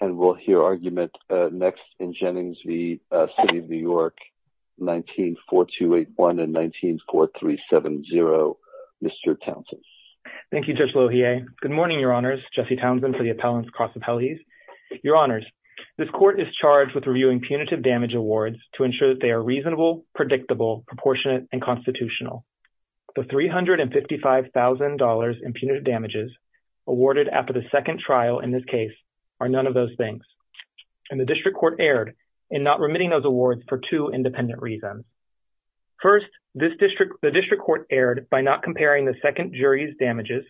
and we'll hear argument next in Jennings v. City of New York 19-4281 and 19-4370. Mr. Townsend. Thank you, Judge Lohier. Good morning, Your Honors. Jesse Townsend for the Appellant's Cross Appellees. Your Honors, this court is charged with reviewing punitive damage awards to ensure that they are reasonable, predictable, proportionate, and constitutional. The $355,000 in punitive damages awarded after the second trial in this case are none of those things, and the District Court erred in not remitting those awards for two independent reasons. First, the District Court erred by not comparing the second jury's damages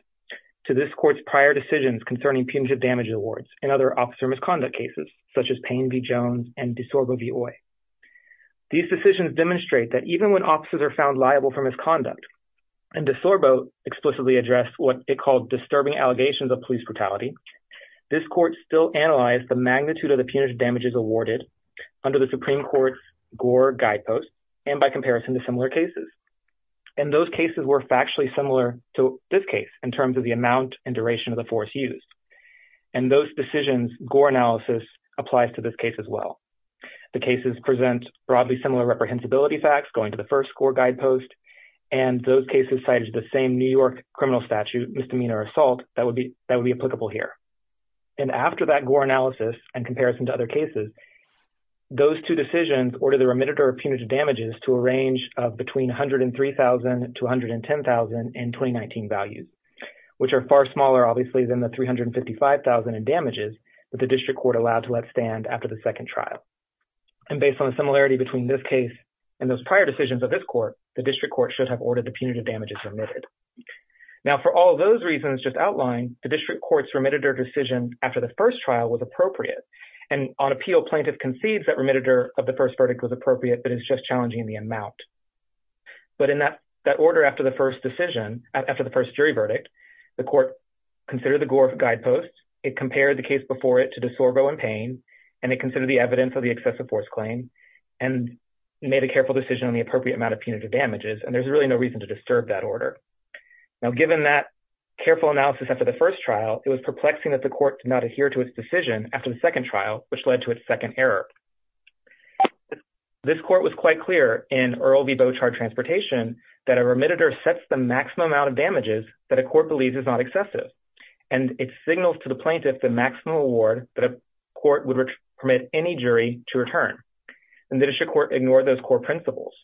to this court's prior decisions concerning punitive damage awards and other officer misconduct cases, such as Payne v. Jones and DeSorbo v. Oye. These decisions demonstrate that even when officers are found liable for misconduct, and DeSorbo explicitly addressed what it called disturbing allegations of police brutality, this court still analyzed the magnitude of the punitive damages awarded under the Supreme Court's Gore Guideposts and by comparison to similar cases. And those cases were factually similar to this case in terms of the amount and duration of the force used. And those decisions' Gore analysis applies to this case as well. The cases present broadly similar reprehensibility facts going to the first Gore Guidepost, and those cases cited the same New York criminal statute, misdemeanor assault, that would be applicable here. And after that Gore analysis and comparison to other cases, those two decisions order the remitted or punitive damages to a range of between 103,000 to 110,000 in 2019 values, which are far smaller, obviously, than the $355,000 in damages that the And based on the similarity between this case and those prior decisions of this court, the district court should have ordered the punitive damages remitted. Now, for all those reasons just outlined, the district court's remitted or decision after the first trial was appropriate. And on appeal, plaintiff concedes that remitted of the first verdict was appropriate, but it's just challenging the amount. But in that order after the first decision, after the first jury verdict, the court considered the Gore Guideposts, it compared the case before it to DeSorbo and Payne, and it considered the evidence of the excessive force claim and made a careful decision on the appropriate amount of punitive damages. And there's really no reason to disturb that order. Now, given that careful analysis after the first trial, it was perplexing that the court did not adhere to its decision after the second trial, which led to its second error. This court was quite clear in Earl v. Beauchamp Transportation that a remitted or sets the maximum amount of damages that a court believes is not excessive. And it signals to the plaintiff the maximum award that a court would permit any jury to return. And the district court ignored those core principles.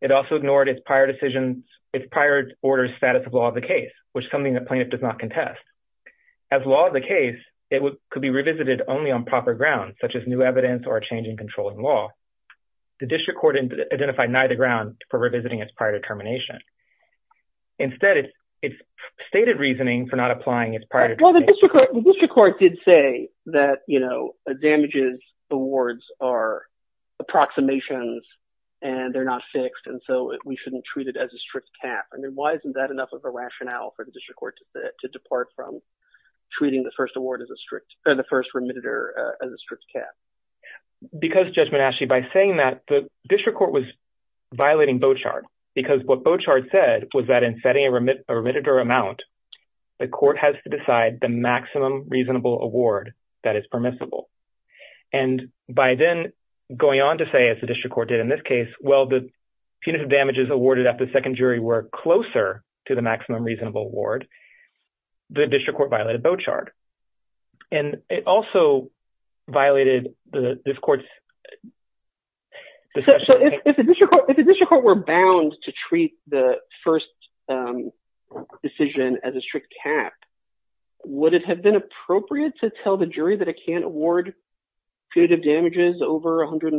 It also ignored its prior decision, its prior order's status of law of the case, which is something that plaintiff does not contest. As law of the case, it could be revisited only on proper grounds, such as new evidence or a change in controlling law. The district court identified neither grounds for revisiting its prior determination. Instead, it's stated reasoning for not applying its prior... The district court did say that, you know, damages awards are approximations and they're not fixed. And so we shouldn't treat it as a strict cap. I mean, why isn't that enough of a rationale for the district court to depart from treating the first award as a strict, or the first remitted or as a strict cap? Because, Judge Monashi, by saying that, the district court was violating Beauchamp. Because what Beauchamp said was that in setting a remitted or amount, the court has to decide the maximum reasonable award that is permissible. And by then going on to say, as the district court did in this case, well, the punitive damages awarded at the second jury were closer to the maximum reasonable award, the district court violated Beauchamp. And it also violated this court's... If the district court were bound to treat the first decision as a strict cap, would it have been appropriate to tell the jury that it can't award punitive damages over $140,000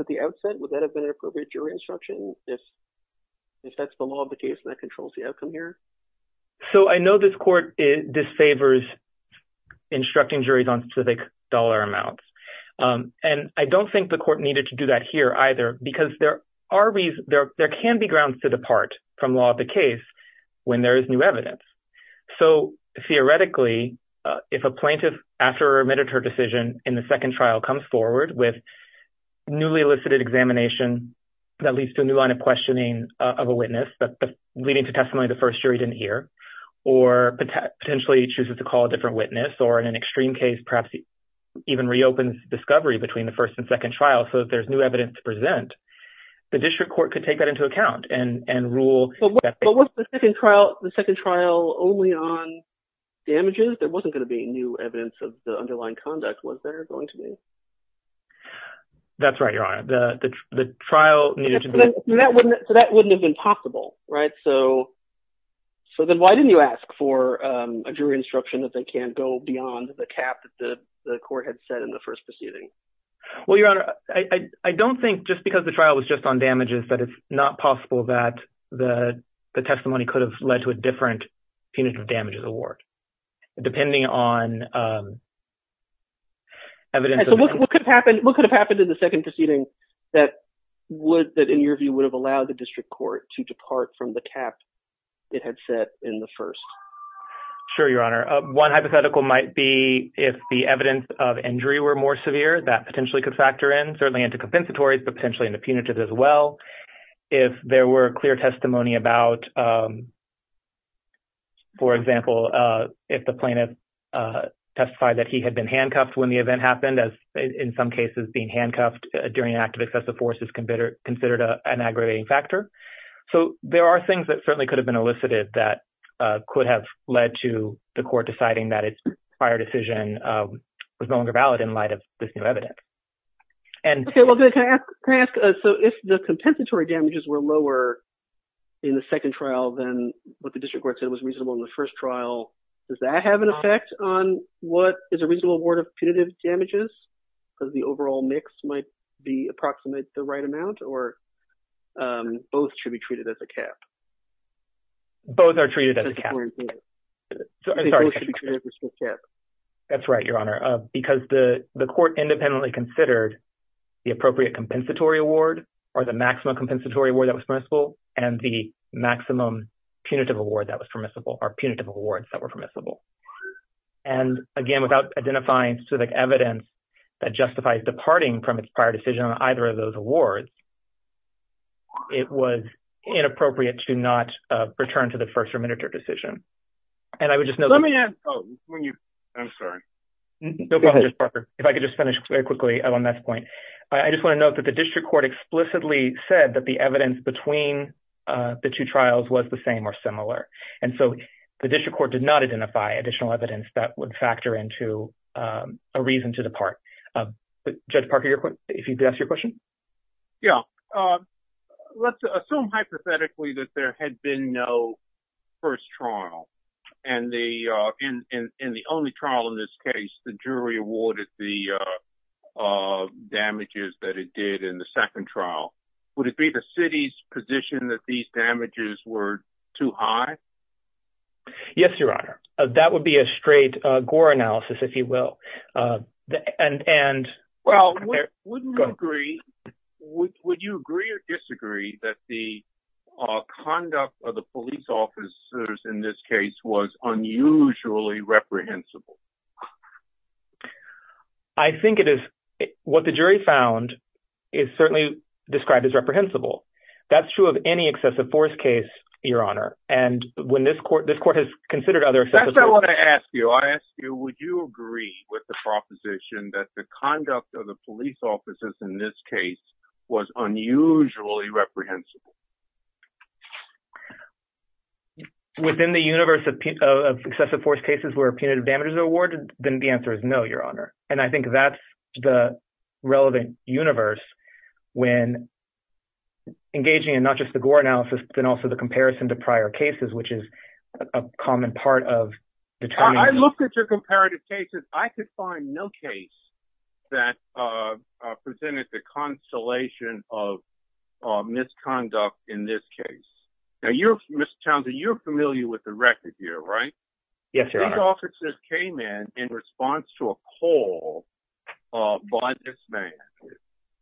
at the outset? Would that have been an appropriate jury instruction if that's the law of the case that controls the outcome here? So I know this court disfavors instructing juries on specific dollar amounts. And I don't think the court needed to do that here either, because there can be grounds to depart from law of the case when there is new evidence. So theoretically, if a plaintiff after remitted her decision in the second trial comes forward with newly elicited examination, that leads to a new line of questioning of a witness, leading to testimony the first jury didn't hear, or potentially chooses to call a different witness, or in an extreme case, perhaps even reopens discovery between the first and second trial so that there's new evidence to present, the district court could take that into account and rule... But was the second trial only on damages? There wasn't going to be new evidence of the underlying conduct, was there, going to be? That's right, Your Honor. The trial needed to be... So that wouldn't have been possible, right? So then why didn't you ask for a jury instruction that they can't go beyond the cap that the court had set in the first proceeding? Well, Your Honor, I don't think, just because the trial was just on damages, that it's not possible that the testimony could have led to a different punitive damages award, depending on... What could have happened in the second proceeding that would, that in your view, would have allowed the district court to depart from the cap it had set in the first? Sure, Your Honor. One hypothetical might be if the evidence of injury were more severe, that potentially could factor in, certainly into compensatory, but potentially in the punitive as well. If there were clear testimony about, for example, if the plaintiff testified that he had been handcuffed when the event happened, as in some cases, being handcuffed during an act of excessive force is considered an aggravating factor. So there are things that certainly could have been elicited that could have led to the court deciding that its prior decision was no longer valid in light of this new evidence. Okay, well, can I ask, so if the compensatory damages were lower in the second trial than what the district court said was reasonable in the first trial, does that have an effect on what is a reasonable award of punitive damages? Because the overall mix might be approximate the right amount or the maximum amount. Both should be treated as a cap. Both are treated as a cap. That's right, Your Honor, because the court independently considered the appropriate compensatory award or the maximum compensatory award that was permissible and the maximum punitive award that was permissible or punitive awards that were permissible. And again, without identifying specific evidence that justifies departing from its prior decision on either of those awards, it was inappropriate to not return to the first remandatory decision. And I would just note... Let me add... I'm sorry. Go ahead. If I could just finish very quickly on that point. I just want to note that the district court explicitly said that the evidence between the two trials was the same or similar. And so the district court did not identify additional evidence that would factor into a reason to Yeah. Let's assume hypothetically that there had been no first trial. And in the only trial in this case, the jury awarded the damages that it did in the second trial. Would it be the city's position that these damages were too high? Yes, Your Honor. That would be a straight Gore analysis, if you will. And... Well, wouldn't you agree... Would you agree or disagree that the conduct of the police officers in this case was unusually reprehensible? I think it is. What the jury found is certainly described as reprehensible. That's true of any excessive force case, Your Honor. And when this court... This court has considered other... I still want to ask you. I ask you, would you agree with the proposition that the conduct of the police officers in this case was unusually reprehensible? Within the universe of excessive force cases where punitive damages are awarded, then the answer is no, Your Honor. And I think that's the relevant universe when engaging in not just the Gore analysis, but also the comparison to prior cases, which is a common part of the... I looked at your comparative cases. I could find no case that presented the constellation of misconduct in this case. Now, you're... Mr. Townsend, you're familiar with the record here, right? Yes, Your Honor. These officers came in in response to a call by this man.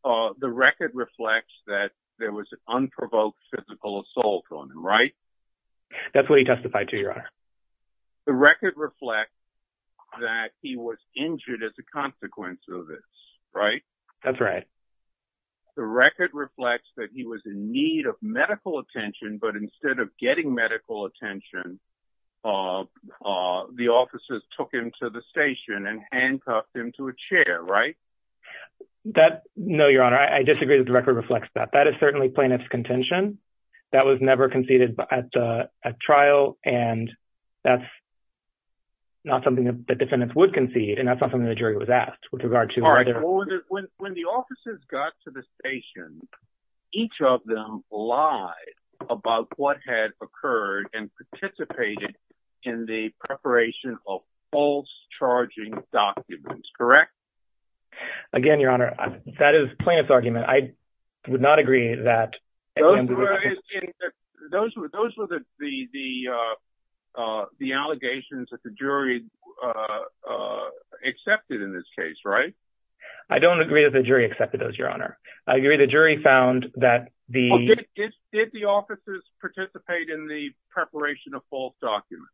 The record reflects that there was an unprovoked physical assault on them, right? That's what he testified to, Your Honor. The record reflects that he was injured as a consequence of this, right? That's right. The record reflects that he was in need of medical attention, but instead of getting medical attention, the officers took him to the station and handcuffed him to a chair, right? That... No, Your Honor. I disagree that the record reflects that. That is certainly plaintiff's intention. That was never conceded at trial, and that's not something that defendants would concede, and that's not something the jury was asked with regard to whether... All right. When the officers got to the station, each of them lied about what had occurred and participated in the preparation of false charging documents, correct? Again, Your Honor, that is plaintiff's argument. I would not agree that... Those were the allegations that the jury accepted in this case, right? I don't agree that the jury accepted those, Your Honor. The jury found that the... Did the officers participate in the preparation of false documents?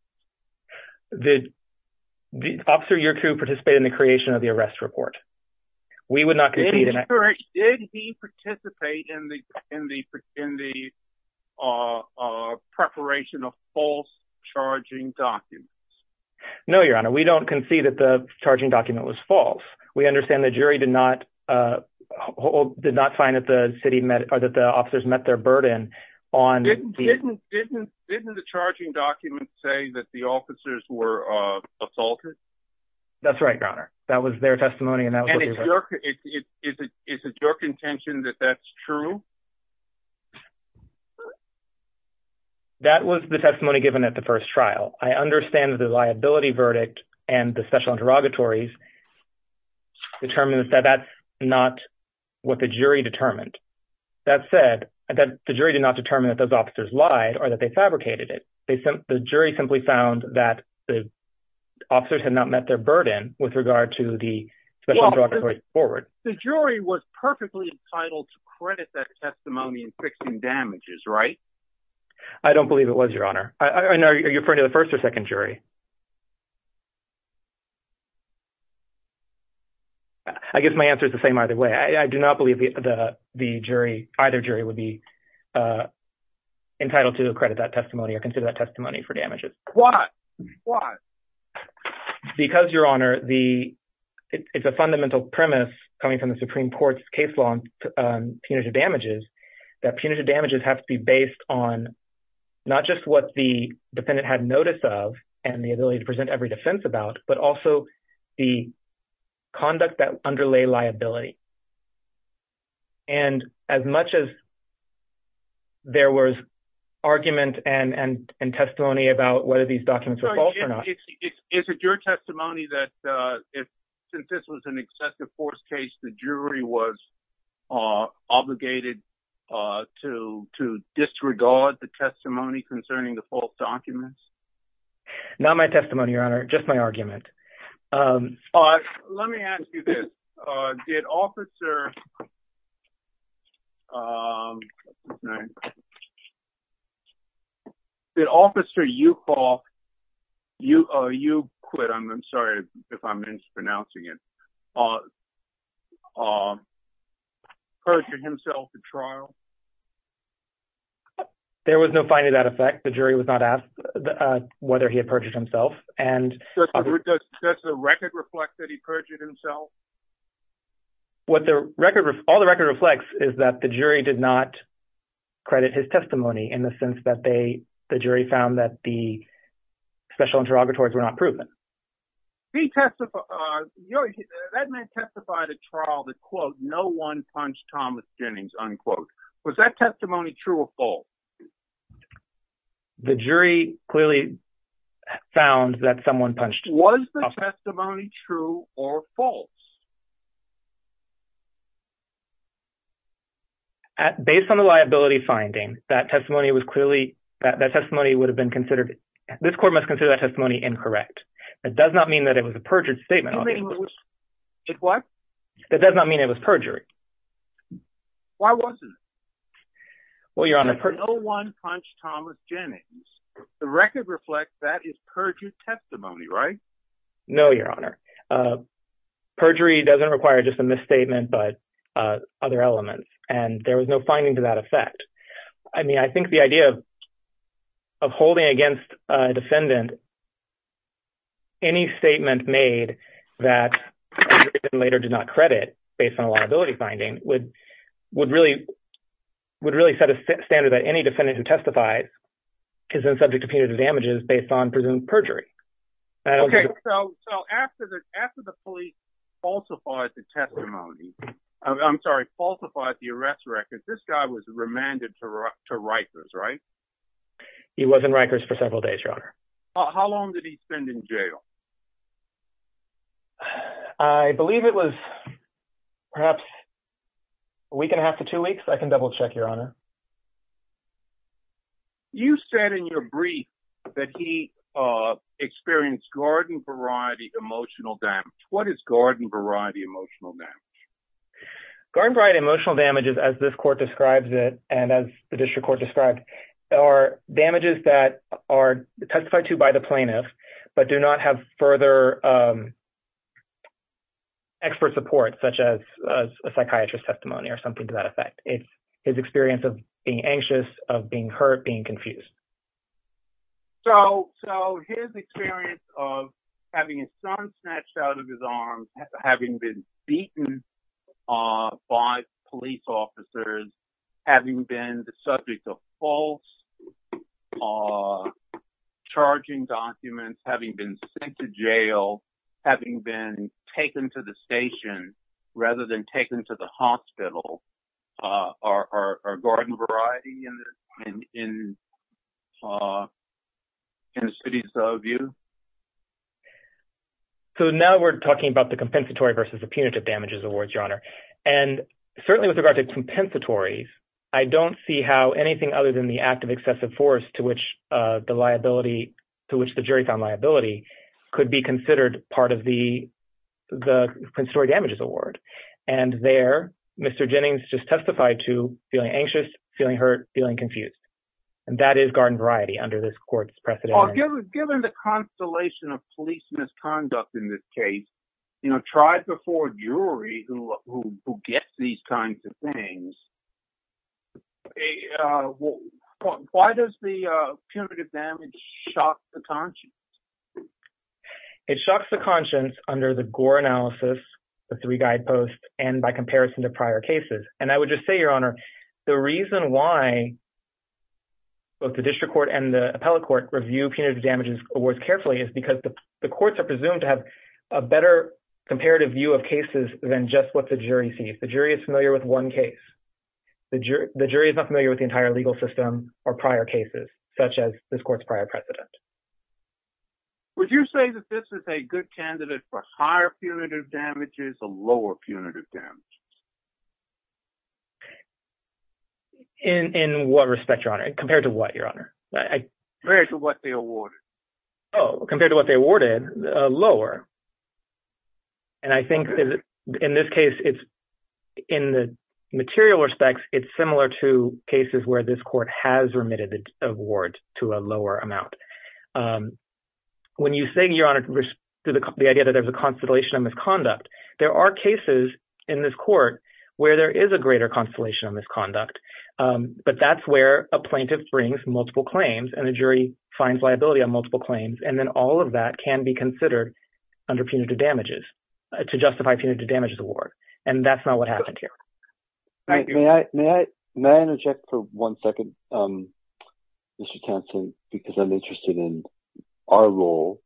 The officer, your crew, participated in the creation of the arrest report. We would not concede... Did he participate in the preparation of false charging documents? No, Your Honor. We don't concede that the charging document was false. We understand the jury did not find that the officers met their were assaulted? That's right, Your Honor. That was their testimony, and that's what we heard. Is it your contention that that's true? That was the testimony given at the first trial. I understand that the liability verdict and the special interrogatories determined that that's not what the jury determined. That said, the jury did not determine that those officers lied or that they fabricated it. The jury simply found that the officers had not met their burden with regard to the special interrogatories forward. The jury was perfectly entitled to credit that testimony in fixing damages, right? I don't believe it was, Your Honor. And are you referring to the first or second jury? I guess my answer is the same either way. I do not believe that either jury would be for damages. Why? Because, Your Honor, it's a fundamental premise coming from the Supreme Court's case law on punitive damages, that punitive damages have to be based on not just what the defendant had notice of and the ability to present every defense about, but also the conduct that underlay liability. And as much as there was argument and testimony about whether these documents were false or not... Is it your testimony that since this was an excessive force case, the jury was obligated to disregard the testimony concerning the false documents? Not my testimony, Your Honor, just my argument. All right. Let me ask you this. Did Officer... Did Officer Uphoff, U-quit, I'm sorry if I'm mispronouncing it, perjured himself at trial? There was no finding that effect. The jury was not asked whether he had perjured himself. Does the record reflect that he perjured himself? All the record reflects is that the jury did not credit his testimony in the sense that the jury found that the special interrogatories were not proven. That man testified at trial that, quote, no one punched Thomas Jennings, unquote. Was that testimony true or false? The jury clearly found that someone punched Thomas... Was the testimony true or false? Based on the liability finding, that testimony was clearly... That testimony would have been considered... This court must consider that testimony incorrect. It does not mean that it was a perjured statement. It what? It does not mean it was perjury. Why wasn't it? Well, Your Honor... No one punched Thomas Jennings. The record reflects that is perjured testimony, right? No, Your Honor. Perjury doesn't require just a misstatement, but other elements, and there was no finding to that effect. I mean, I think the idea of holding against a defendant any statement made that later did not credit based on a liability finding would really set a standard that any defendant who testifies is then subject to penal damages based on presumed perjury. Okay, so after the police falsified the testimony... I'm sorry, falsified the arrest record, this guy was remanded to Rikers, right? He was in Rikers for several days, Your Honor. How long did he spend in jail? I believe it was perhaps a week and a half to two weeks. I can double-check, Your Honor. You said in your brief that he experienced garden-variety emotional damage. What is garden-variety emotional damage? Garden-variety emotional damage, as this court describes it, and as the district court describes, are damages that are testified to by the plaintiff, but do not have the further expert support, such as a psychiatrist testimony or something to that effect. It's his experience of being anxious, of being hurt, being confused. So his experience of having his son snatched out of his arms, having been beaten by police officers, having been subject to false charging documents, having been sent to jail, having been taken to the station rather than taken to the hospital. Are garden-variety in the cities of view? So now we're talking about the compensatory versus the punitive damages award, Your Honor. And certainly with regard to compensatory, I don't see how anything other than the act of excessive force to which the jury found liability could be considered part of the compensatory damages award. And there, Mr. Jennings just testified to feeling anxious, feeling hurt, feeling confused. And that is garden-variety under this court's precedent. Given the constellation of police misconduct in this case, tribes before a jury who get these kinds of things, why does the punitive damage shock the conscience? It shocks the conscience under the Gore analysis, the three guideposts, and by comparison to prior cases. And I would just say, Your Honor, the reason why both the district court and the appellate court review punitive damages awards carefully is because the courts are presumed to have a better comparative view of cases than just what the jury sees. The jury is familiar with one case. The jury is not familiar with the entire legal system or prior cases such as this court's prior precedent. Would you say that this is a good comparison? Compared to what they awarded, lower. And I think in this case, in the material respects, it's similar to cases where this court has remitted an award to a lower amount. When you say, Your Honor, the idea that there's a constellation of misconduct, there are cases in this court where there is a greater constellation of misconduct, but that's where a plaintiff brings multiple claims and the jury finds liability on multiple claims. And then all of that can be considered under punitive damages to justify punitive damages award. And that's not what happened here. May I interject for one second, Mr. Thompson, because I'm interested in our role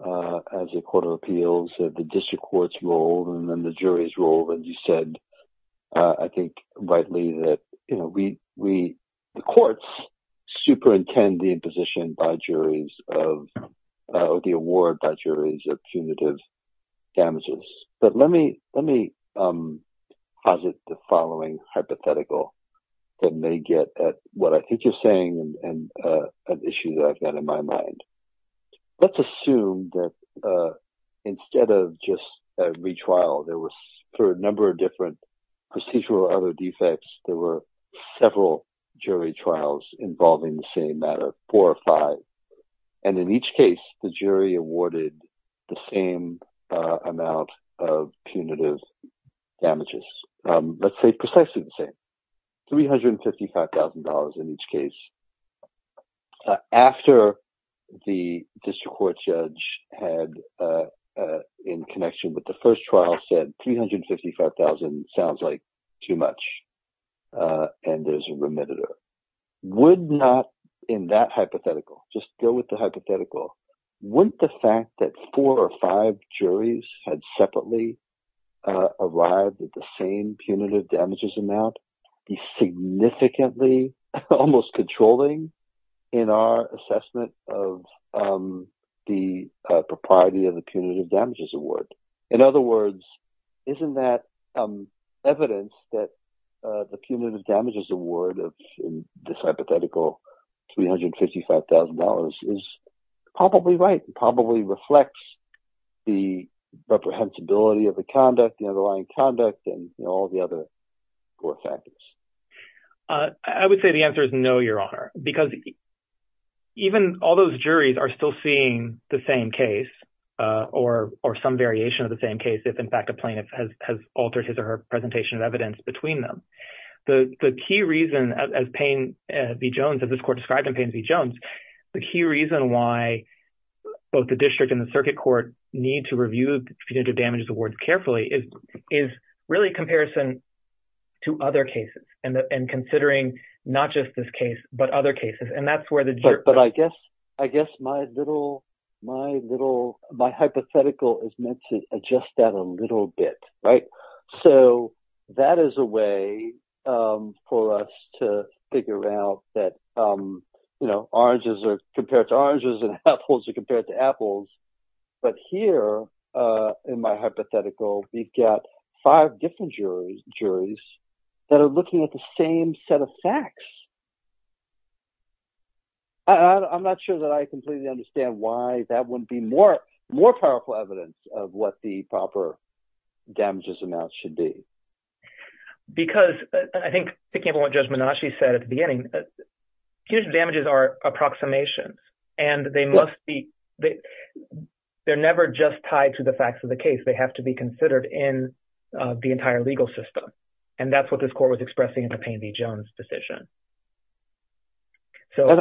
as a court of appeals, the district court's role, and the jury's role. And you said, I think, rightly that the courts superintend the imposition by juries of the award by juries of punitive damages. But let me posit the following hypothetical that may get at what I think you're saying and an issue that I've got in my mind. Let's assume that instead of just a retrial, there were a number of different procedural other defects. There were several jury trials involving the same matter, four or five. And in each case, the jury awarded the same amount of punitive damages, let's say, $355,000 in each case. After the district court judge had in connection with the first trial said $355,000 sounds like too much. And there's a remitted. Would not in that hypothetical, just go with the hypothetical. Wouldn't the fact that four or five juries had separately arrived at the same punitive damages amount be significantly, almost controlling in our assessment of the propriety of the punitive damages award? In other words, isn't that evidence that the punitive damages award of this hypothetical $355,000 is probably right, probably reflects the reprehensibility of the conduct, the underlying conduct, and all the other factors? I would say the answer is no, Your Honor, because even all those juries are still seeing the same case or some variation of the same case, if in fact a plaintiff has altered his or her presentation of evidence between them. The key reason as Payne v. Jones, as this court described in Payne v. Jones, the key reason why the district and the circuit court need to review the punitive damages awards carefully is really a comparison to other cases and considering not just this case, but other cases. And that's where the jury... But I guess my hypothetical is meant to adjust that a little bit, right? So that is a way for us to figure out that oranges are compared to oranges and apples are compared to apples. But here in my hypothetical, we've got five different juries that are looking at the same set of facts. I'm not sure that I completely understand why that wouldn't be more powerful evidence of what the proper damages amounts should be. Because I think picking up on what Judge Menasche said at the beginning, punitive damages are approximations and they must be... They're never just tied to the facts of the case. They have to be considered in the entire legal system. And that's what this court was expressing in the Payne v. Jones decision. And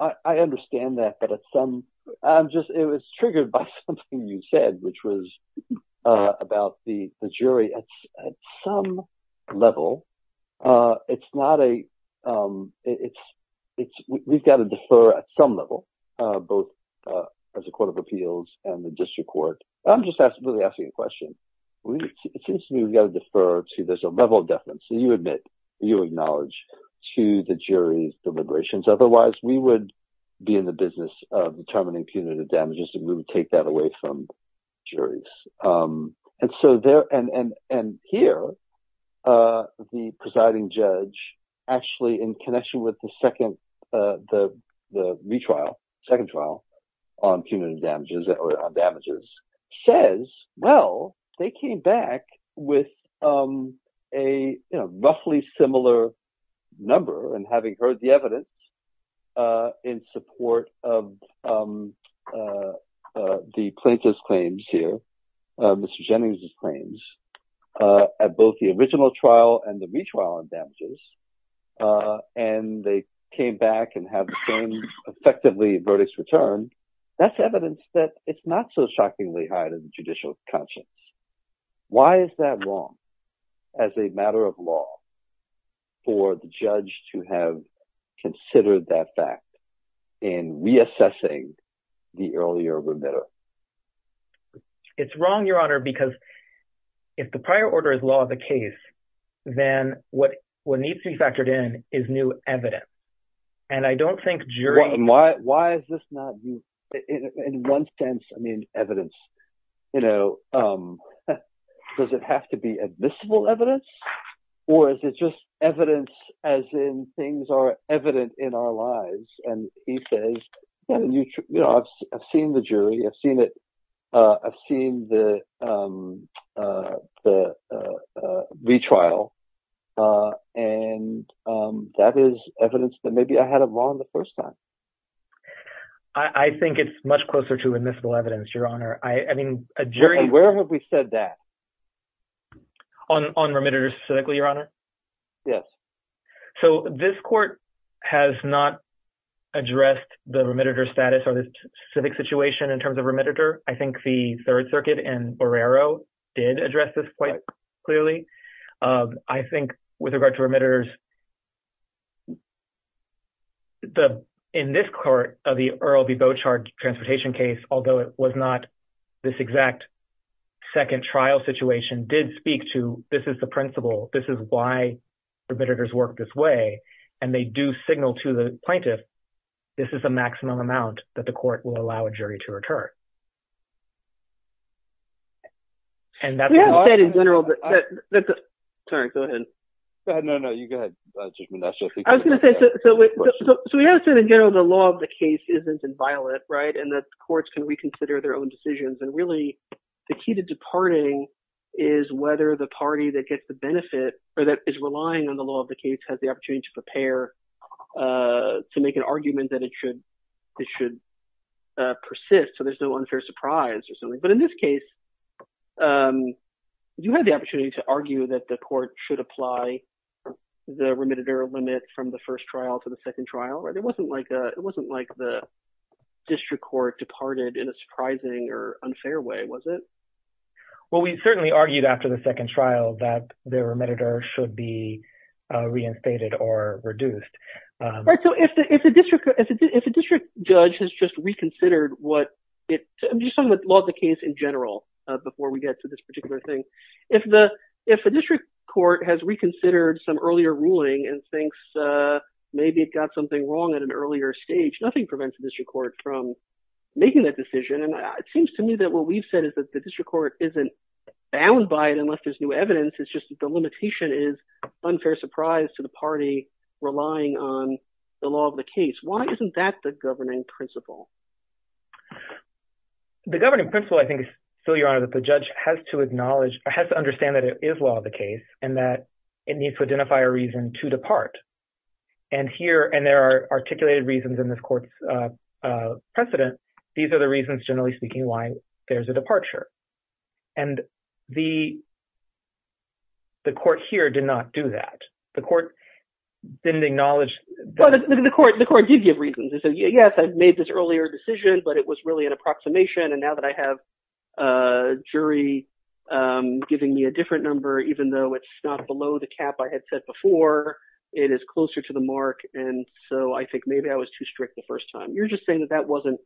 I understand that, but it's some... I'm just... It was triggered by something you said, which was about the jury at some level. It's not a... We've got to defer at some level, both as a court of appeals and the district court. I'm just really asking you a question. It seems to me we've got to defer to this level of definite. So you admit, you acknowledge to the jury deliberations. Otherwise we would be in the business of determining punitive damages and we would take that away from juries. And so there... And here the presiding judge actually in connection with the second, the retrial, second trial on punitive damages or they came back with a roughly similar number and having heard the evidence in support of the plaintiff's claims here, Mr. Jennings' claims at both the original trial and the retrial on damages. And they came back and had the same effectively verdicts returned. That's evidence that it's not so shockingly high to the judicial conscience. Why is that wrong as a matter of law for the judge to have considered that fact in reassessing the earlier remittal? It's wrong, Your Honor, because if the prior order is law of the case, then what needs to be factored in is new evidence. And I don't think jury... Why is this not in one sense, I mean, evidence? Does it have to be admissible evidence or is it just evidence as in things are evident in our lives? And he says, I've seen the jury, I've seen the retrial and that is evidence that maybe I had it wrong the first time. I think it's much closer to admissible evidence, Your Honor. I mean, a jury... Where have we said that? On remitters specifically, Your Honor? Yes. So this court has not addressed the remitters status or the specific situation in terms of remitter. I think the Third Circuit and Borrero did address this point clearly. I think with regard to remitters, in this court, the Earl v. Beauchard transportation case, although it was not this exact second trial situation, did speak to, this is the principle, this is why remitters work this way. And they do signal to the plaintiff, this is the maximum amount that the court will allow a jury to return. Sorry, go ahead. No, no, you go ahead. So we have said in general, the law of the case isn't inviolate, right? And that courts can reconsider their own decisions. And really the key to departing is whether the party that gets the benefit or that is relying on the law of the case has the opportunity to prepare to make an persist, so there's no unfair surprise or something. But in this case, you had the opportunity to argue that the court should apply the remitted error limit from the first trial to the second trial, right? It wasn't like the district court departed in a surprising or unfair way, was it? Well, we certainly argued after the second trial that the remitter should be I'm just talking about the law of the case in general before we get to this particular thing. If the district court has reconsidered some earlier ruling and thinks maybe it got something wrong at an earlier stage, nothing prevents the district court from making that decision. And it seems to me that what we've said is that the district court isn't bound by it unless there's new evidence, it's just that the limitation is unfair surprise to the party relying on the law of the case. Why isn't that the governing principle? The governing principle, I think, is that the judge has to acknowledge, has to understand that it is law of the case and that it needs to identify a reason to depart. And here, and there are articulated reasons in this court's precedent, these are the reasons generally speaking why there's a departure. And the court here did not do that. The court didn't acknowledge the court. The court did give reasons. They said, yes, I made this earlier decision, but it was really an approximation. And now that I have a jury giving me a different number, even though it's not below the cap I had set before, it is closer to the mark. And so I think maybe I was too strict the first time. You're just saying that that wasn't,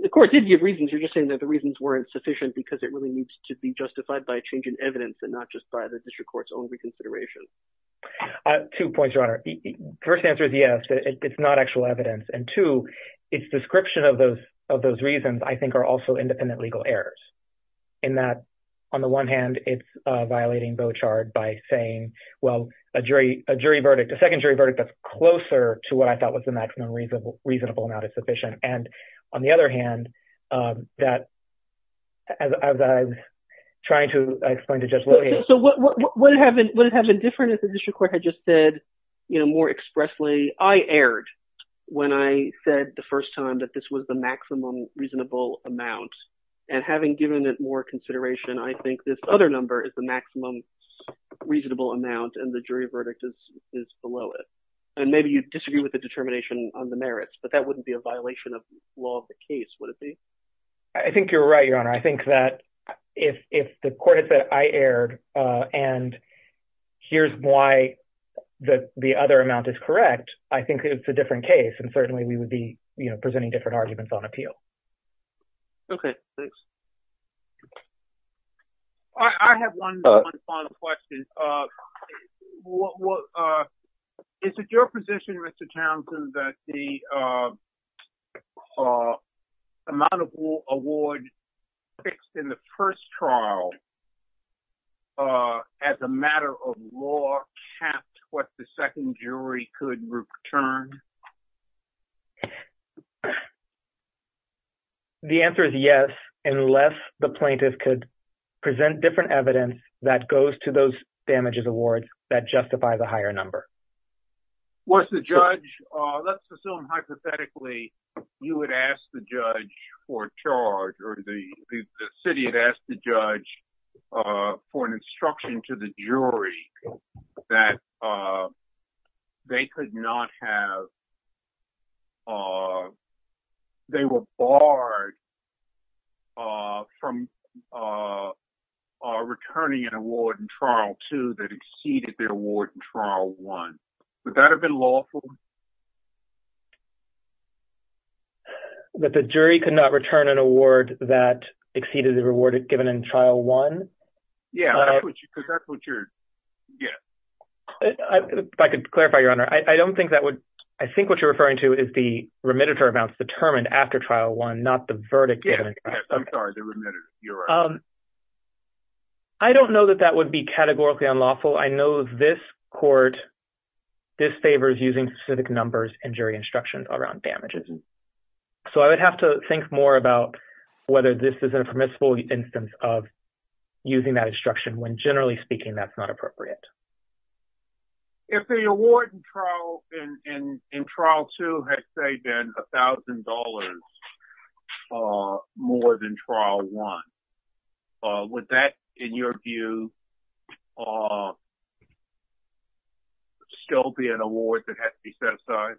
the court did give reasons, you're just saying that the reasons weren't sufficient because it really needs to be justified by a change in evidence and not just by the district court's own reconsideration. Two points, Your Honor. First answer is yes, but it's not actual evidence. And two, its description of those reasons, I think, are also independent legal errors. In that, on the one hand, it's violating Beauchard by saying, well, a jury verdict, a second jury verdict that's closer to what I thought was the maximum reasonable amount is sufficient. And on the other hand, that as I was trying to explain to Judge Williams... So would it have been different if the district court had just said, more expressly, I erred when I said the first time that this was the maximum reasonable amount. And having given it more consideration, I think this other number is the maximum reasonable amount and the jury verdict is below it. And maybe you disagree with the determination on the merits, but that wouldn't be a violation of the law of the case, would it be? I think you're right, Your Honor. I think that if the court had said I erred and here's why the other amount is correct, I think it's a different case. And certainly we would be presenting different arguments on appeal. Okay. I have one final question. Is it your position, Mr. Townsend, that the amount of award fixed in the first trial as a matter of law kept what the second jury could return? The answer is yes, unless the plaintiff could present different evidence that goes to those awards that justify the higher number. Was the judge... Let's assume hypothetically you would ask the judge for a charge or the city had asked the judge for an instruction to the jury that they could not have... They were barred from returning an award in trial two that exceeded their award in trial one. Would that have been lawful? But the jury could not return an award that exceeded the reward given in trial one. Yeah. I could clarify, Your Honor. I don't think that would... I think what you're referring to is the remittance amounts determined after trial one, not the verdict. I'm sorry. I don't know that that would be categorically unlawful. I know this court disfavors using specific numbers and jury instructions around damages. So I would have to think more about whether this is a permissible instance of using that instruction when generally speaking, that's not appropriate. If the award in trial two had saved in $1,000 more than trial one, would that, in your view, still be an award that has to be set aside?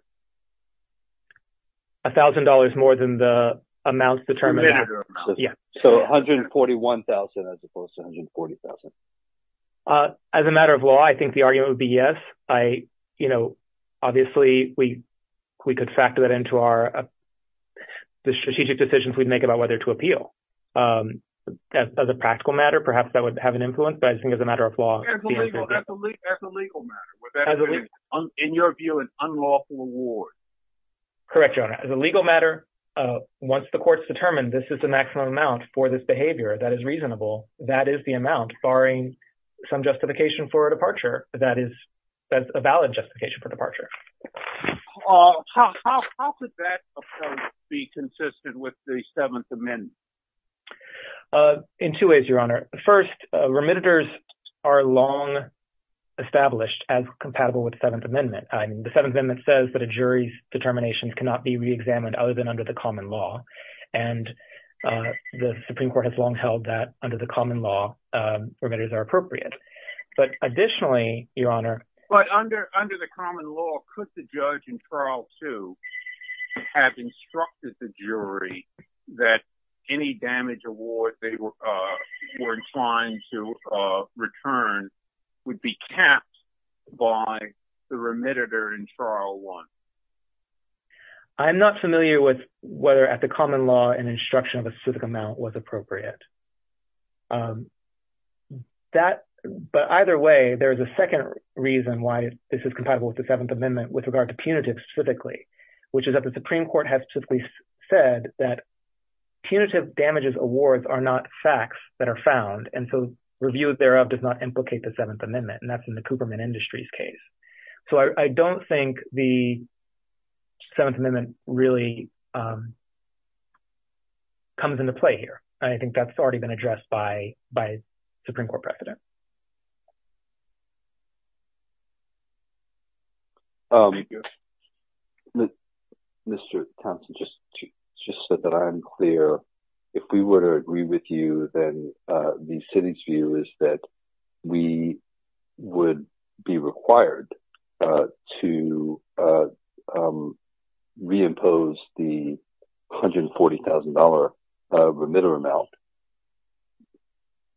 $1,000 more than the amounts determined? Yeah. So $141,000 as opposed to $140,000? As a matter of law, I think the argument would be yes. Obviously, we could factor that into the strategic decisions we'd make about whether to appeal. As a practical matter, perhaps that would have an influence, but I think as a matter of law- That's a legal matter. In your view, unlawful award? Correct, Your Honor. As a legal matter, once the court's determined this is the maximum amount for this behavior that is reasonable, that is the amount barring some justification for a departure that is a valid justification for departure. How could that be consistent with the Seventh Amendment? In two ways, Your Honor. First, remittances are long established and compatible with the Seventh Amendment. The Seventh Amendment says that a jury's determinations cannot be reexamined other than under the common law, and the Supreme Court has long held that under the common law, remittances are appropriate. But additionally, Your Honor- But under the common law, could the judge in trial two have instructed the jury that any damage award they were inclined to return would be capped by the remitter in trial one? I'm not familiar with whether at the common law, an instruction of a specific amount was appropriate. But either way, there's a second reason why this is compatible with the Seventh Amendment with regard to punitive specifically, which is that the Supreme Court has specifically said that punitive damages awards are not facts that are found, and so review thereof does not implicate the Seventh Amendment, and that's in the Cooperman Industries case. So I don't think the Seventh Amendment really comes into play here, and I think that's already been addressed by just so that I'm clear. If we were to agree with you, then the city's view is that we would be required to reimpose the $140,000 remittal amount.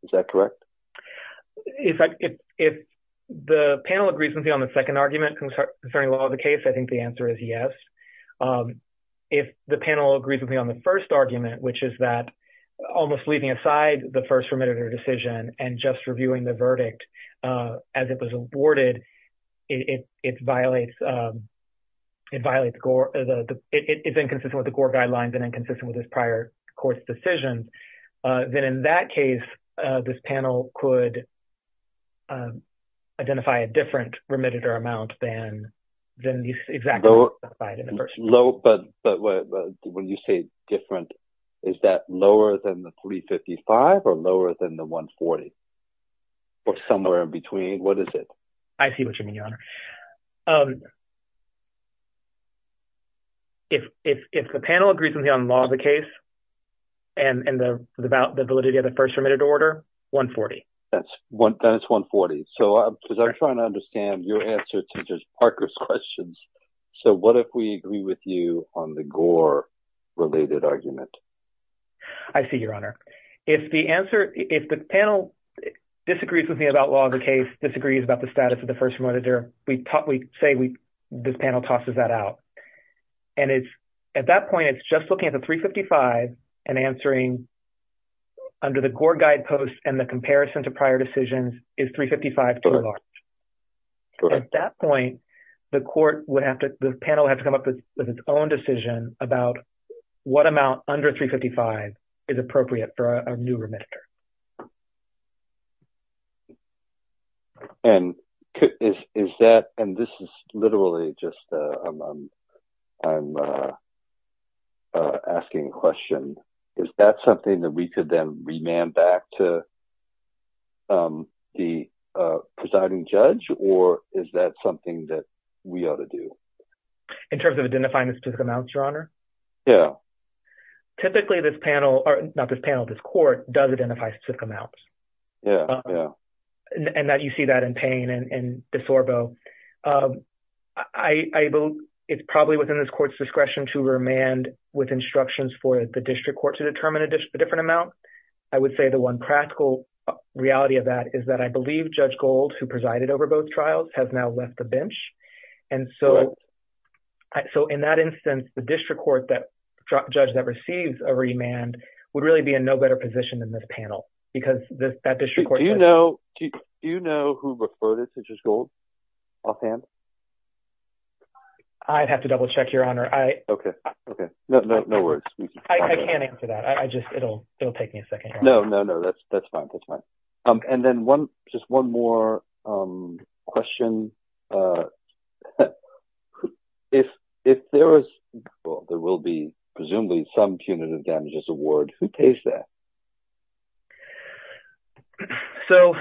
Is that correct? If the panel agrees with me on the second argument concerning the law of the case, I think the answer is yes. If the panel agrees with me on the first argument, which is that almost leaving aside the first remitter decision and just reviewing the verdict as it was awarded, it's inconsistent with the Gore guidelines and inconsistent with this prior court's decision, then in that case, this panel could identify a different remitter amount than exactly what was specified in the first one. Low, but when you say different, is that lower than the $355,000 or lower than the $140,000, or somewhere in between? What is it? I see what you mean, Your Honor. If the panel agrees with me on the law of the case and the validity of the first remitted order, $140,000. That's $140,000. I'm trying to understand your answer to just Parker's questions. What if we agree with you on the Gore-related argument? I see, Your Honor. If the panel disagrees with me about law of the case, disagrees about the status of the first remitted order, we say this panel tosses that out. At that point, it's just looking at the $355,000 and answering under the Gore guidepost and the comparison to prior decisions is $355,000 too large. At that point, the panel would have to come up with its own decision about what amount under $355,000 is appropriate for a new remitter. Is that, and this is literally just, I'm asking a question. Is that something that we could then rename back to the presiding judge, or is that something that we ought to do? In terms of identifying the specific amounts, Your Honor? Yeah. Typically, this panel, not this panel, this court does identify the specific amounts. Yeah, yeah. And that you see that in Payne and DeSorbo. I believe it's probably within this court's discretion to remand with instructions for the district court to determine a different amount. I would say the one practical reality of that is that I believe Judge Gold, who presided over both trials, has now left the bench. And so in that instance, the district court judge that receives a remand would really be in no better position than this panel, because that district court judge- Do you know who referred it to Judge Gold offhand? I'd have to double check, Your Honor. Okay, okay. No worries. I can't answer that. It'll take me a second here. No, no, no. That's fine. That's fine. And then just one more question. If there was, well, there will be presumably some punitive damages award, who pays that? Okay. So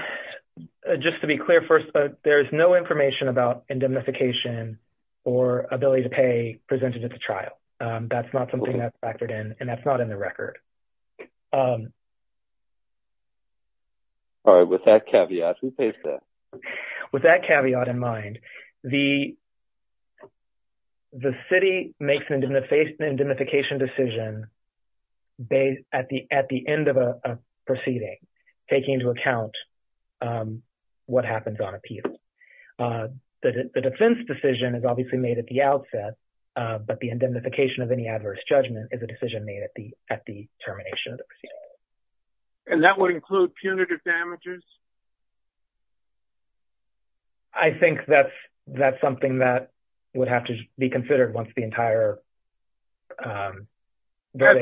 just to be clear first, there's no information about indemnification or ability to pay presented at the trial. That's not something that's factored in, and that's not in the record. All right. With that caveat, who pays that? With that caveat in mind, the city makes an indemnification decision based at the end of a proceeding, taking into account what happens on appeal. The defense decision is obviously made at the outset, but the indemnification of any adverse judgment is a decision made at the termination. And that would include punitive damages? I think that's something that would have to be considered once the entire verdict.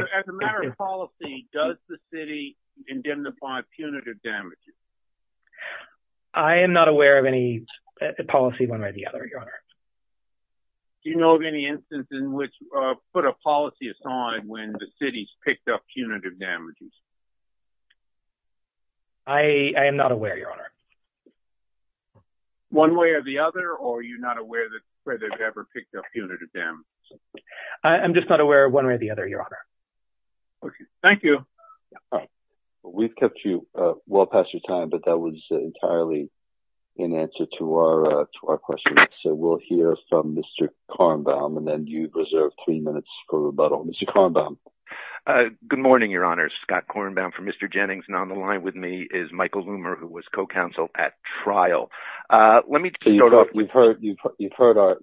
As a matter of policy, does the city indemnify punitive damages? I am not aware of any policy one way or the other, Your Honor. Do you know of any instance in which, or put a policy aside when the city's picked up punitive damages? I am not aware, Your Honor. One way or the other, or you're not aware that the city has ever picked up punitive damages? I'm just not aware of one way or the other, Your Honor. Thank you. We've kept you well past your time, but that was entirely in answer to our question. So we'll hear from Mr. Kornbaum, and then you reserve three minutes for rebuttal. Mr. Kornbaum. Good morning, Your Honor. Scott Kornbaum for Mr. Jennings, and on the line with me is Michael Loomer, who was co-counsel at trial. Let me start off. You've heard our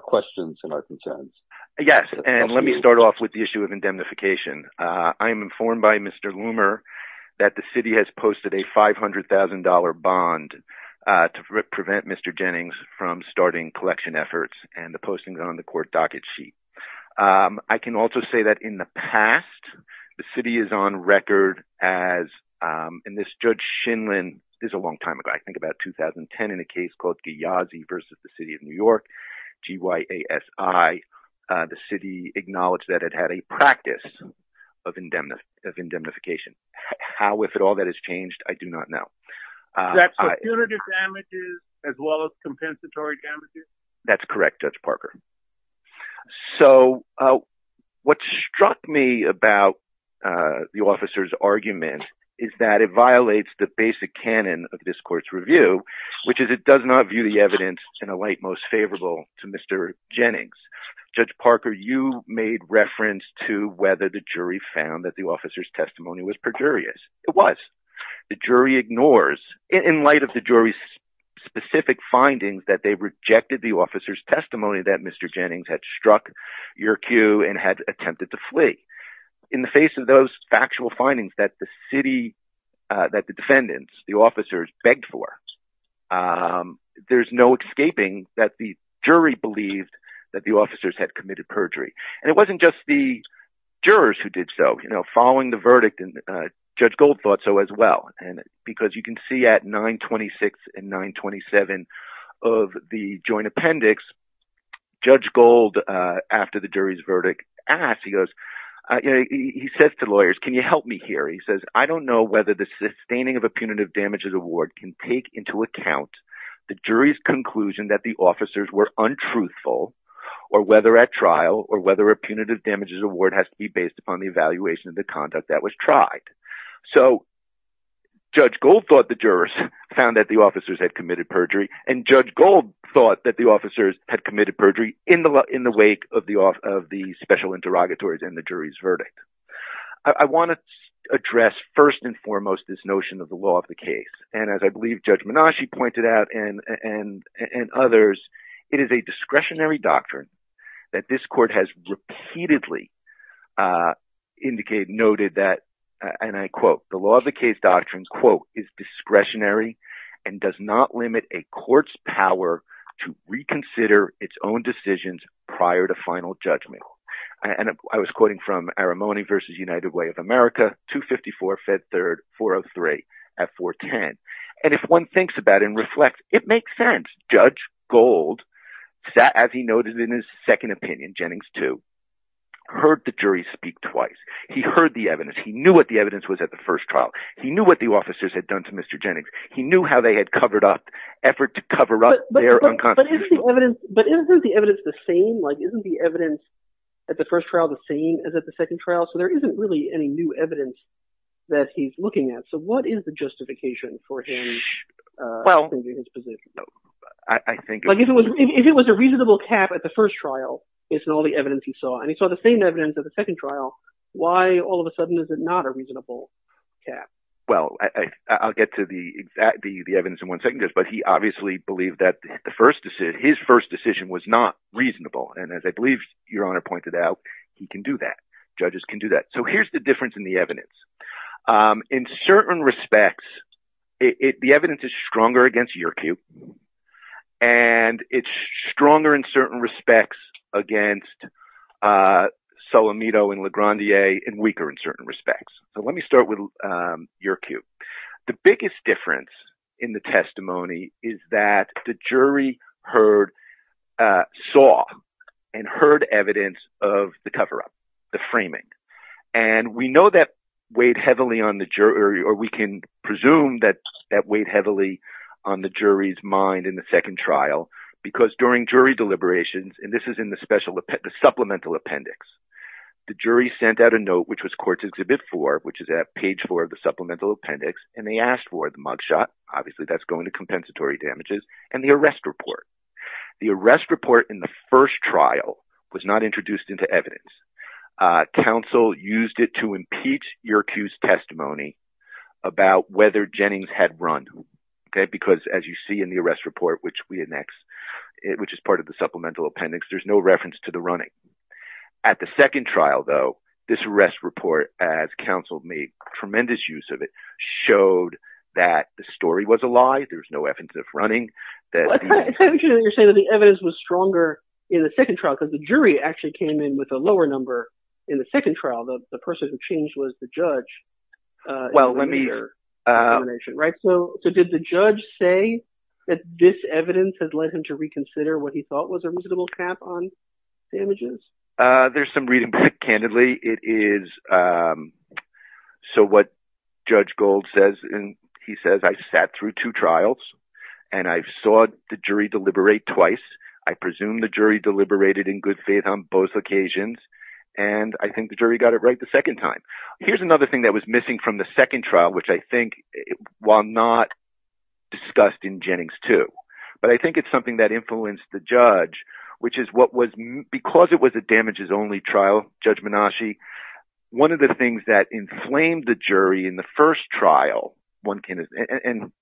questions and our concerns. Yes, and let me start off with the issue of indemnification. I am informed by Mr. Loomer that the city has posted a $500,000 bond to prevent Mr. Jennings from starting collection efforts, and the posting's on the court docket sheet. I can also say that in the past, the city is on record as, and this Judge Shinran, this is a long time ago, I think about 2010 in a case called Giyazi versus the City of New York, G-Y-A-S-I. The city acknowledged that it had a practice of indemnification. How, if at all, that has changed, I do not know. That's for punitive damages as well as compensatory damages? That's correct, Judge Parker. So what struck me about the officer's argument is that it violates the basic canon of this court's review, which is it does not view the evidence in a light most favorable to Mr. Jennings. Judge Parker, you made reference to whether the jury found that the officer's testimony was perjurious. It was. The jury ignores, in light of the jury's specific findings, that they rejected the officer's testimony that Mr. Jennings had struck your cue and had attempted to flee. In the face of those factual findings that the city, that the defendants, the officers begged for, there's no escaping that the jury believed that the officers had committed perjury. And it wasn't just the jurors who did so, following the of the joint appendix, Judge Gold, after the jury's verdict, asked, he goes, he says to lawyers, can you help me here? He says, I don't know whether the sustaining of a punitive damages award can take into account the jury's conclusion that the officers were untruthful or whether at trial or whether a punitive damages award has to be based upon the evaluation of the conduct that was tried. So Judge Gold thought the jurors found that the officers had committed perjury and Judge Gold thought that the officers had committed perjury in the, in the wake of the, of the special interrogatories and the jury's verdict. I want to address first and foremost, this notion of the law of the case. And as I believe Judge Menasci pointed out and, and, and others, it is a discretionary doctrine that this court has repeatedly indicated, noted that, and I quote, the law of the case doctrines quote, is discretionary and does not limit a court's power to reconsider its own decisions prior to final judgment. And I was quoting from Arimony versus United Way of America, 254 Fed Third 403 at 410. And if one thinks about and reflect, it makes sense. Judge Gold sat, as he noted in his second opinion, Jennings too, heard the jury speak twice. He heard the evidence. He knew what the evidence was at the first trial. He knew what the officers had done to Mr. Jennings. He knew how they had covered up, effort to cover up their unconsciousness. But isn't the evidence the same? Like, isn't the evidence at the first trial the same as at the second trial? So there isn't really any new evidence that he's looking at. So what is the justification for him? Well, I think if it was, if it was a reasonable cap at the first trial, based on all the evidence you saw, and he saw the same evidence at the second trial, why all of a sudden is it not a reasonable cap? Well, I'll get to the, the evidence in one second, but he obviously believed that the first decision, his first decision was not reasonable. And as I believe your honor pointed out, he can do that. Judges can do that. So here's the difference in the evidence. In certain respects, it, the evidence is stronger against your cue and it's stronger in certain respects against Solomito and LeGrandier and weaker in certain respects. So let me start with your cue. The biggest difference in the testimony is that the jury heard, saw and heard evidence of the coverup, the framing. And we know that weighed heavily on the jury, or we can presume that that weighed heavily on the jury's mind in the second trial, because during jury deliberations, and this is in the special, the supplemental appendix, the jury sent out a note, which was courts exhibit four, which is at page four of the supplemental appendix. And they asked for the mugshot, obviously that's going to compensatory damages and the arrest report. The arrest report in the first trial was not introduced into evidence. Council used it to impeach your accused testimony about whether Jennings had run. Because as you see in the arrest report, which we had next, which is part of the supplemental appendix, there's no reference to the running. At the second trial, though, this arrest report, as counsel made tremendous use of it, showed that the story was a lie. There was no evidence of running. The evidence was stronger in the second trial because the jury actually came in with a lower number in the second trial. The person who changed was the judge. Well, let me hear. So did the judge say that this evidence has led him to reconsider what he thought was a reasonable cap on damages? There's some reading, but candidly, it is. So what Judge Gold says, and he says, I sat through two trials and I saw the jury deliberate twice. I presume the jury deliberated in good faith on both occasions. And I think the jury got it right the second time. Here's another thing that was missing from the second trial, which I think, while not discussed in Jennings too, but I think it's something that influenced the judge, which is what was, because it was a damages only trial, Judge Menasche, one of the things that inflamed the jury in the first trial, one can, and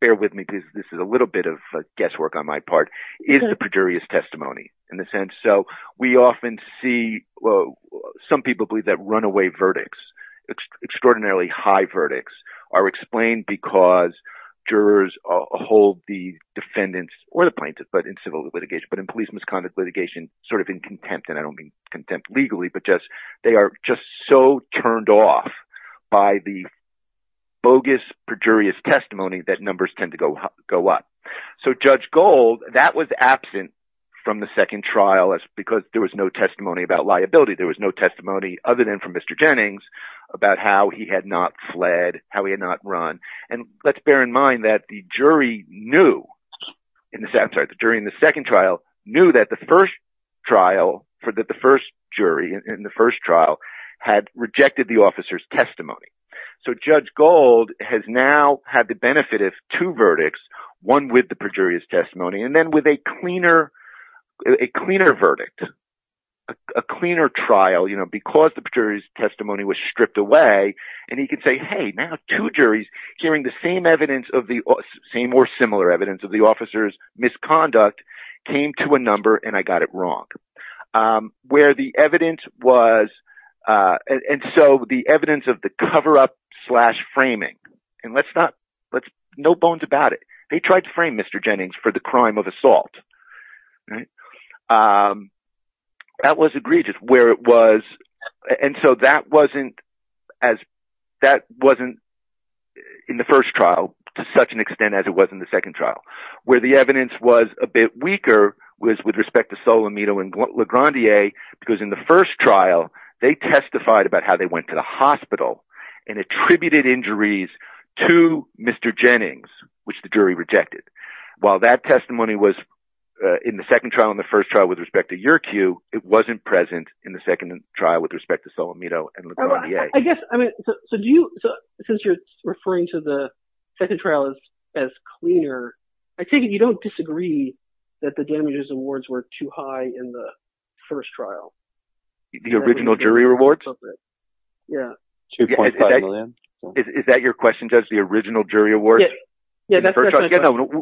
bear with me, this is a little bit of guesswork on my part, is the prejurious testimony in the sense. So we often see, some people believe that runaway verdicts, extraordinarily high verdicts are explained because jurors hold the defendants or the plaintiffs, but in civil litigation, but in police misconduct litigation, sort of in contempt. And I don't mean contempt legally, but just, they are just so turned off by the bogus prejurious testimony that numbers tend to go up. So Judge Gold, that was absent from the second trial because there was no testimony about liability. There was no testimony other than from Mr. Jennings about how he had not fled, how he had not run. And let's bear in mind that the jury knew in the second trial, knew that the first trial for the first jury in the first trial had rejected the officer's testimony. So Judge Gold has now had the benefit of two verdicts, one with the prejurious testimony, and then with a cleaner verdict, a cleaner trial, because the prejurious testimony was stripped away and he could say, hey, now two juries hearing the same evidence of the same or similar evidence of the officer's misconduct came to a number and I got it wrong. Where the evidence was, and so the evidence of the coverup slash framing, and let's not, let's, no bones about it. They tried to frame Mr. Jennings for the crime of assault. That was egregious where it was. And so that wasn't as, that wasn't in the first trial to such an extent as it was in the second trial, where the evidence was a bit weaker was with respect to Solimito and LeGrandier, because in the first trial, they testified about how they went to the hospital and attributed injuries to Mr. Jennings, which the jury rejected. While that testimony was in the second trial and the first trial with respect to your cue, it wasn't present in the second trial with respect to Solimito and LeGrandier. I guess, I mean, so do you, so since you're referring to the second trial as, as clear, I take it you don't disagree that the damages awards were too high in the first trial? The original jury awards? Yeah. Is that your question, Jess, the original jury awards? Yeah.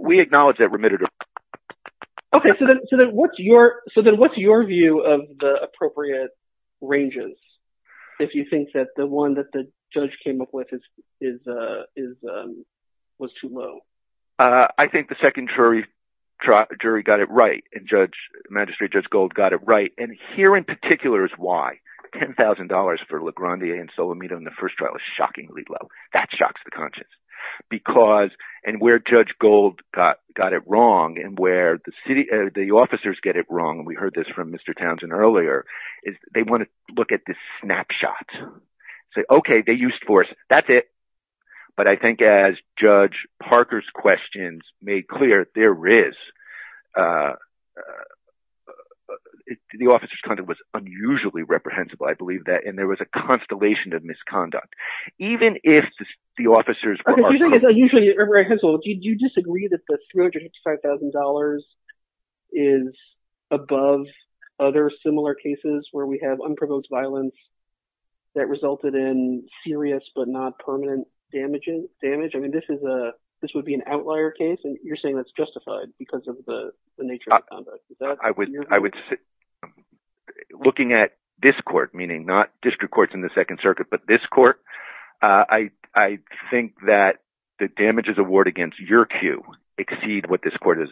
We acknowledge that remitted. Okay. So then what's your, so then what's your view of the appropriate ranges? If you think that the one that the judge came up with is, is, was too low? I think the second jury, jury got it right. And judge, magistrate judge gold got it right. And here in particular is why $10,000 for LeGrandier and Solimito in the first trial is shockingly low. That shocks the conscience because, and where judge gold got, got it wrong. And where the city, the officers get it wrong. And we heard this from the snapshots. So, okay. They used force. That's it. But I think as judge Parker's questions made clear, there is, uh, uh, the officer's content was unusually reprehensible. I believe that. And there was a constellation of misconduct, even if the officers are usually, do you disagree that $355,000 is above other similar cases where we have unproposed violence that resulted in serious, but not permanent damages damage? I mean, this is a, this would be an outlier case. And you're saying that's justified because of the nature of the conduct. I would, I would, looking at this court, meaning not district courts in the second circuit, but this court, uh, I, I think that the damages award against your queue exceed what this court has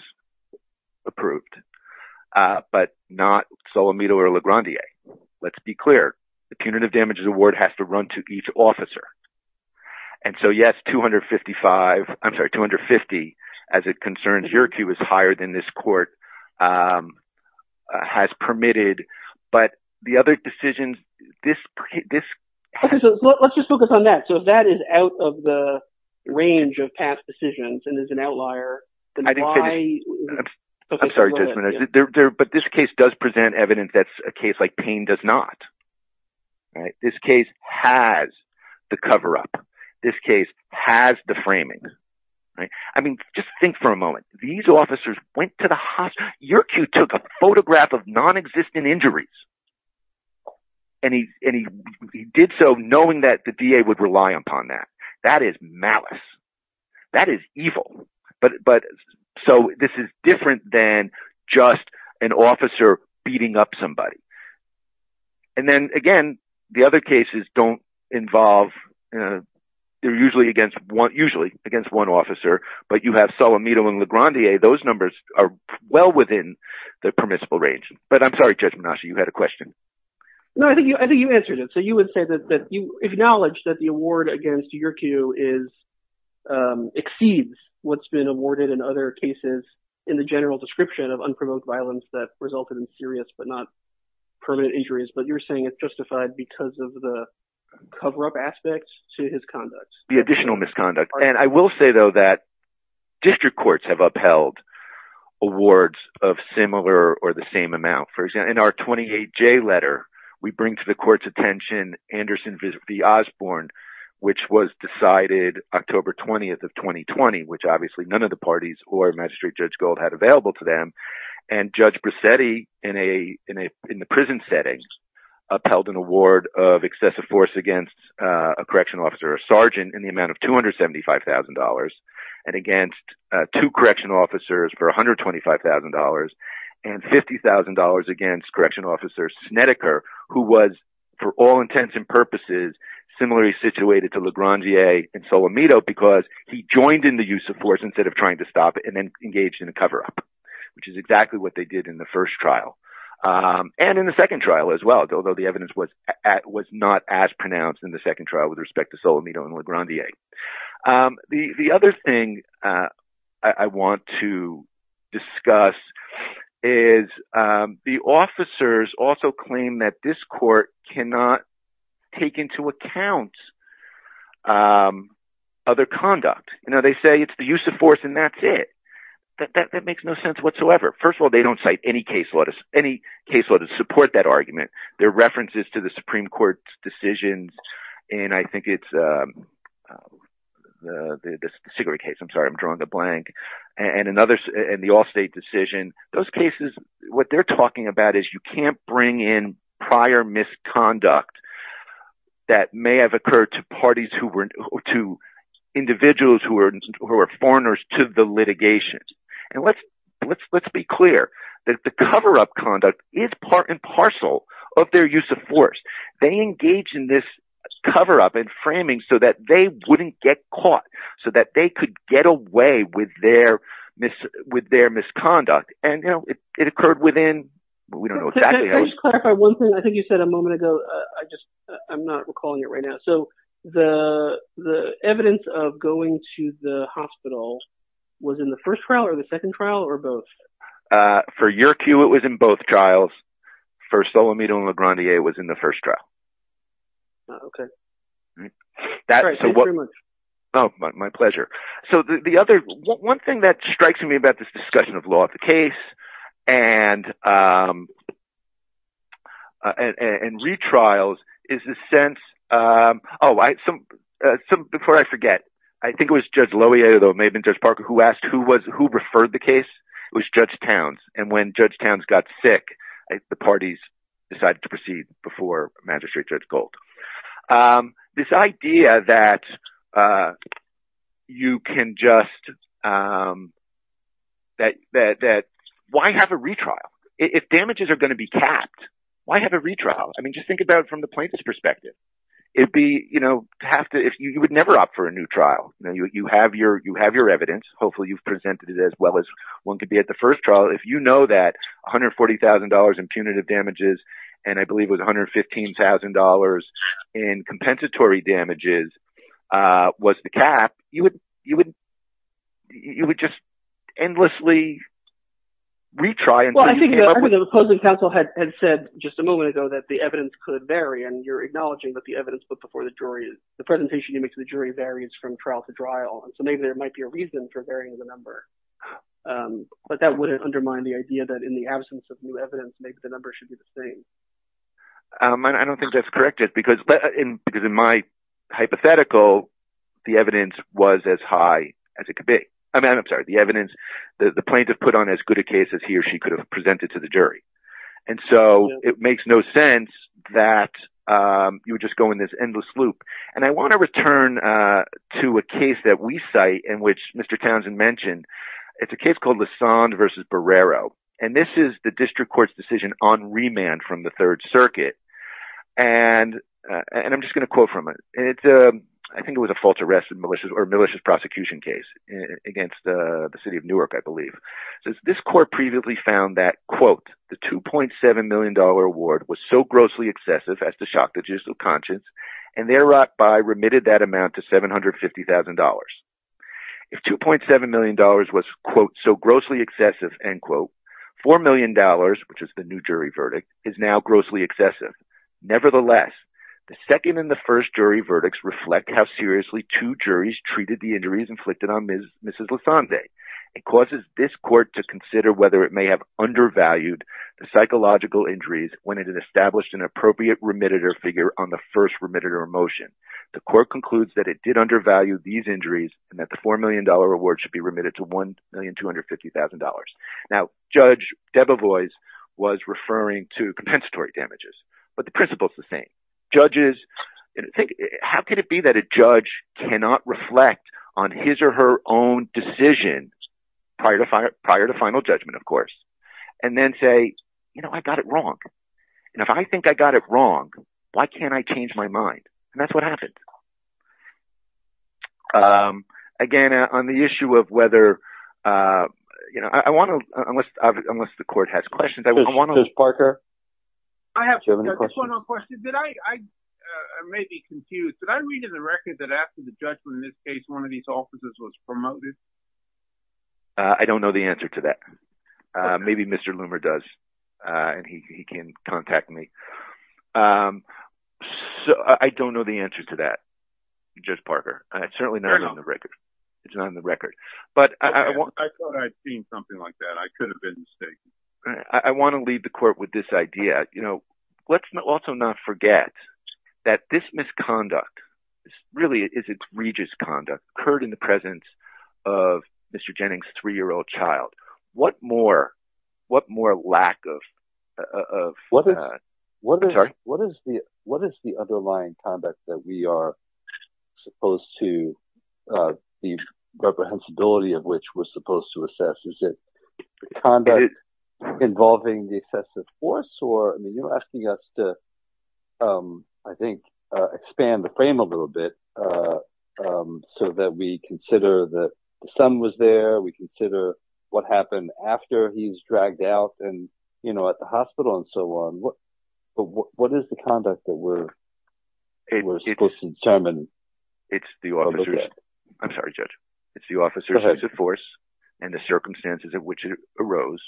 approved, uh, but not Solimito or LeGrandier. Let's be clear. The punitive damages award has to run to each officer. And so yes, 255, I'm sorry, 250, as it concerns your queue is higher than this court, um, has permitted, but the other decisions, this, this, let's just focus on that. So that is out of the range of past decisions. And as an outlier, I'm sorry, but this case does present evidence. That's a case like pain does not, right? This case has the cover up. This case has the framing, right? I mean, just think for a moment, these officers went to the hospital, your queue took a photograph of non-existent injuries. And he, and he, he did so knowing that the VA would rely upon that. That is malice. That is evil. But, but so this is different than just an officer beating up somebody. And then again, the other cases don't involve, uh, they're usually against one, usually against one officer, but you have Solimito and LeGrandier, those numbers are well within the permissible range, but I'm sorry, Judge Menashe, you had a question. No, I think you, I think you answered it. So you would say that, that you, acknowledge that the award against your queue is, um, exceeds what's been awarded in other cases in the general description of unprovoked violence that resulted in serious, but not permanent injuries. But you're saying it's justified because of the cover-up aspects to his conduct. The additional misconduct. And I will say though, that district courts have upheld awards of similar or the same amount. For example, in our 28J letter, we bring to the Osborne, which was decided October 20th of 2020, which obviously none of the parties or magistrate judge gold had available to them. And judge Brissetti in a, in a, in the prison setting upheld an award of excessive force against a correctional officer, a sergeant in the amount of $275,000 and against two correctional officers for $125,000 and $50,000 against correctional officers, Snedeker, who was for all intents and purposes, similarly situated to LeGrandier and Solomito because he joined in the use of force instead of trying to stop it and then engaged in a cover-up, which is exactly what they did in the first trial. Um, and in the second trial as well, although the evidence was at, was not as pronounced in the second trial with respect to that, this court cannot take into account, um, other conduct. Now they say it's the use of force and that's it. That, that, that makes no sense whatsoever. First of all, they don't cite any case letters, any case letters support that argument. There are references to the Supreme Court's decisions. And I think it's, um, uh, the, the cigarette case, I'm sorry, I'm drawing the blank and another, and the all state decision, those cases, what they're talking about is you can't bring in prior misconduct that may have occurred to parties who were to individuals who are, who are foreigners to the litigations. And let's, let's, let's be clear that the cover-up conduct is part and parcel of their use of force. They engage in this cover-up and framing so that they wouldn't get caught so that they could get away with their mis, with their misconduct. And, it occurred within, we don't know exactly. I think you said a moment ago, uh, I just, I'm not recalling it right now. So the, the evidence of going to the hospital was in the first trial or the second trial or both? Uh, for your cue, it was in both trials. First, Olamide and LeGrandier was in the first trial. Okay. That, so what, oh, my pleasure. So the other, one thing that strikes me about this discussion of law of the case and, um, and, and retrials is the sense, um, oh, I, some, uh, some, before I forget, I think it was Judge Loewe, though it may have been Judge Parker who asked who was, who referred the case? It was Judge Towns. And when Judge Towns got sick, the parties decided to proceed before Magistrate Judge Gold. Um, this idea that, uh, you can just, um, that, that, that why have a retrial? If damages are going to be capped, why have a retrial? I mean, just think about it from the plaintiff's perspective. It'd be, you know, have to, if you would never opt for a new trial, you have your, you have your evidence. Hopefully you've presented it as well as one could be at the first trial. If you know that $140,000 in punitive damages, and I believe it was $115,000 in compensatory damages, uh, was the cap, you would, you would, you would just endlessly retry. Well, I think the opposing counsel had said just a moment ago that the evidence could vary, and you're acknowledging that the evidence put before the jury is, the presentation you make to the jury varies from trial to trial. And so maybe there might be a reason for varying the number. Um, but that wouldn't undermine the idea that in the absence of new evidence, maybe the number should be the same. Um, I don't think that's corrected because, but in, because in my hypothetical, the evidence was as high as it could be. I mean, I'm sorry, the evidence that the plaintiff put on as good a case as he or she could have presented to the jury. And so it makes no sense that, um, you would just go in this endless loop. And I want to return, uh, to a case that we cite in which Mr. Townsend mentioned. It's a case called Lassonde versus on remand from the third circuit. And, uh, and I'm just going to quote from it. And it's, um, I think it was a false arrest and malicious or malicious prosecution case against the city of Newark. I believe this court previously found that quote, the $2.7 million award was so grossly excessive as to shock the judicial conscience. And there by remitted that amount to $750,000. If $2.7 million was quote, so grossly excessive end quote $4 million, which is the new jury verdict is now grossly excessive. Nevertheless, the second and the first jury verdicts reflect how seriously two juries treated the injuries inflicted on Ms. Mrs. Lassonde. It causes this court to consider whether it may have undervalued the psychological injuries when it had established an appropriate remitted or figure on the first remitted or emotion. The court concludes that it did undervalue these injuries and that the $4 million award should be remitted to $1,250,000. Now judge Debevoise was referring to compensatory damages, but the principle is the same judges. How could it be that a judge cannot reflect on his or her own decision prior to fire prior to final judgment, of course, and then say, you know, I've got it wrong. And if I think I got it wrong, why can't I change my mind? And that's what happened. Um, again, on the issue of whether, uh, you know, I want to, unless, unless the court has questions, I want to, I have some questions. Did I, I may be confused, but I read in the record that after the judgment, in this case, one of these offices was promoted. Uh, I don't know the answer to that. Uh, maybe Mr. Loomer does. Uh, and he, he can contact me. Um, so I don't know the answer to that. Just Parker. And it's certainly not on the record. It's not in the record, but I want, I thought I'd seen something like that. I could have been mistaken. I want to leave the court with this idea. You know, let's not also not forget that this misconduct really is it's Regis conduct occurred in the presence of Mr. Jennings, three-year-old child. What more, what more lack of, uh, of, uh, what is, what is the, what is the underlying conduct that we are supposed to, uh, the reprehensibility of which we're supposed to assess? Is it the conduct involving the excessive force or, I mean, you're asking us to, um, I think, uh, expand the frame a little bit, uh, um, so that we consider that the son was there. We consider what happened after he was dragged out and, you know, at the hospital and so on. What, what is the conduct that we're, we're supposed to determine? It's the officers. I'm sorry, judge. It's the officer's force and the circumstances of which arose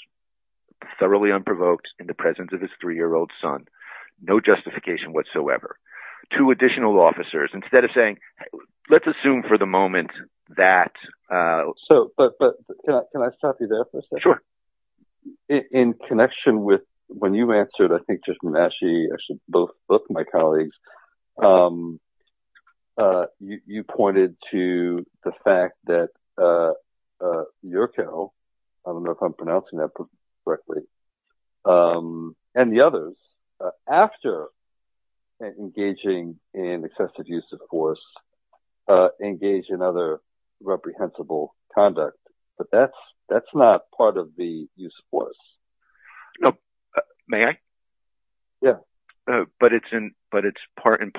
thoroughly unprovoked in the presence of his three-year-old son. No justification whatsoever to additional officers instead of saying, let's assume for the moment that, uh, so, but, but can I stop you there for a second? Sure. In connection with when you answered, I think just actually actually both, both of my colleagues, um, uh, you, you pointed to the fact that, uh, uh, your cow, I don't know if I'm pronouncing that correctly. Um, and the others, uh, after engaging in excessive use of force, uh, engage in other reprehensible conduct, but that's, that's not part of the use of force. No, may I? Yeah. Uh, but it's in, but it's part and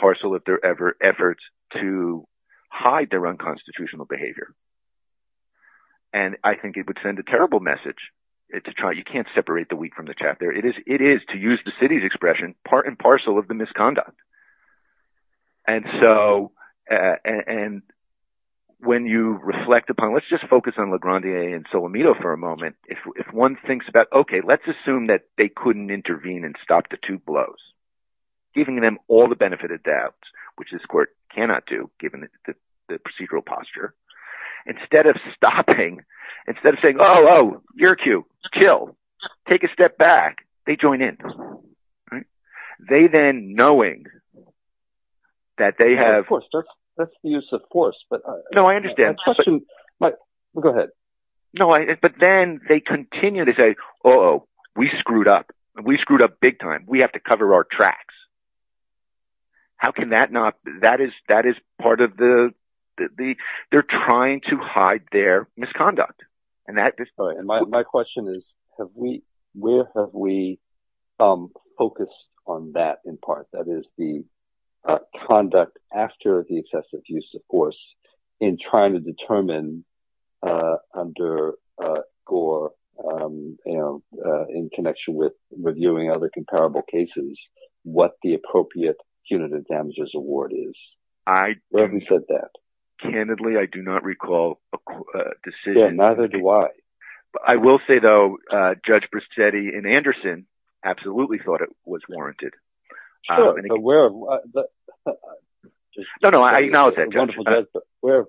a terrible message to try. You can't separate the wheat from the chaff there. It is, it is to use the city's expression, part and parcel of the misconduct. And so, uh, and when you reflect upon, let's just focus on LeGrande and Solomito for a moment. If, if one thinks about, okay, let's assume that they couldn't intervene and stop the two blows, giving them all the benefit of doubt, which this court cannot do given the procedural posture, instead of stopping, instead of saying, oh, you're cute, kill, take a step back. They join in. They then knowing that they have, of course, that's the use of force, but no, I understand, but go ahead. No, I, but then they continue to say, oh, we screwed up. We screwed up big time. We have to cover our tracks. How can that not, that is, that is part of the, the, they're trying to hide their misconduct. And that just, sorry. And my, my question is, have we, where have we focused on that in part? That is the conduct after the excessive use of force in trying to determine under Gore, you know, in connection with reviewing other comparable cases, what the appropriate punitive damages award is. Where have we said that? Candidly, I do not recall a decision. Yeah, neither do I. I will say though, Judge Brissetti and Anderson absolutely thought it was warranted. Sure, but where have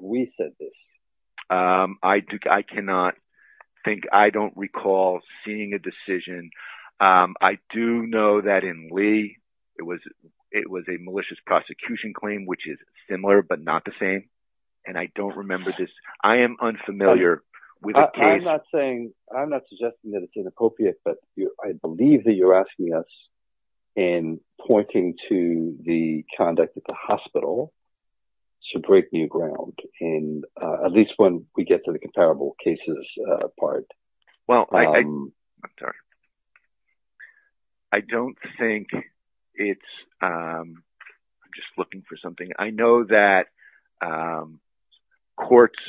we said this? I do, I cannot think, I don't recall seeing a decision. I do know that in Lee, it was, it was a malicious prosecution claim, which is similar, but not the same. And I don't remember this. I am unfamiliar with the case. I'm not suggesting that it's inappropriate, but I believe that you're asking us in pointing to the conduct at the hospital, so breaking ground in at least when we get to the comparable cases part. Well, I'm sorry. I don't think it's, I'm just looking for something. I know that courts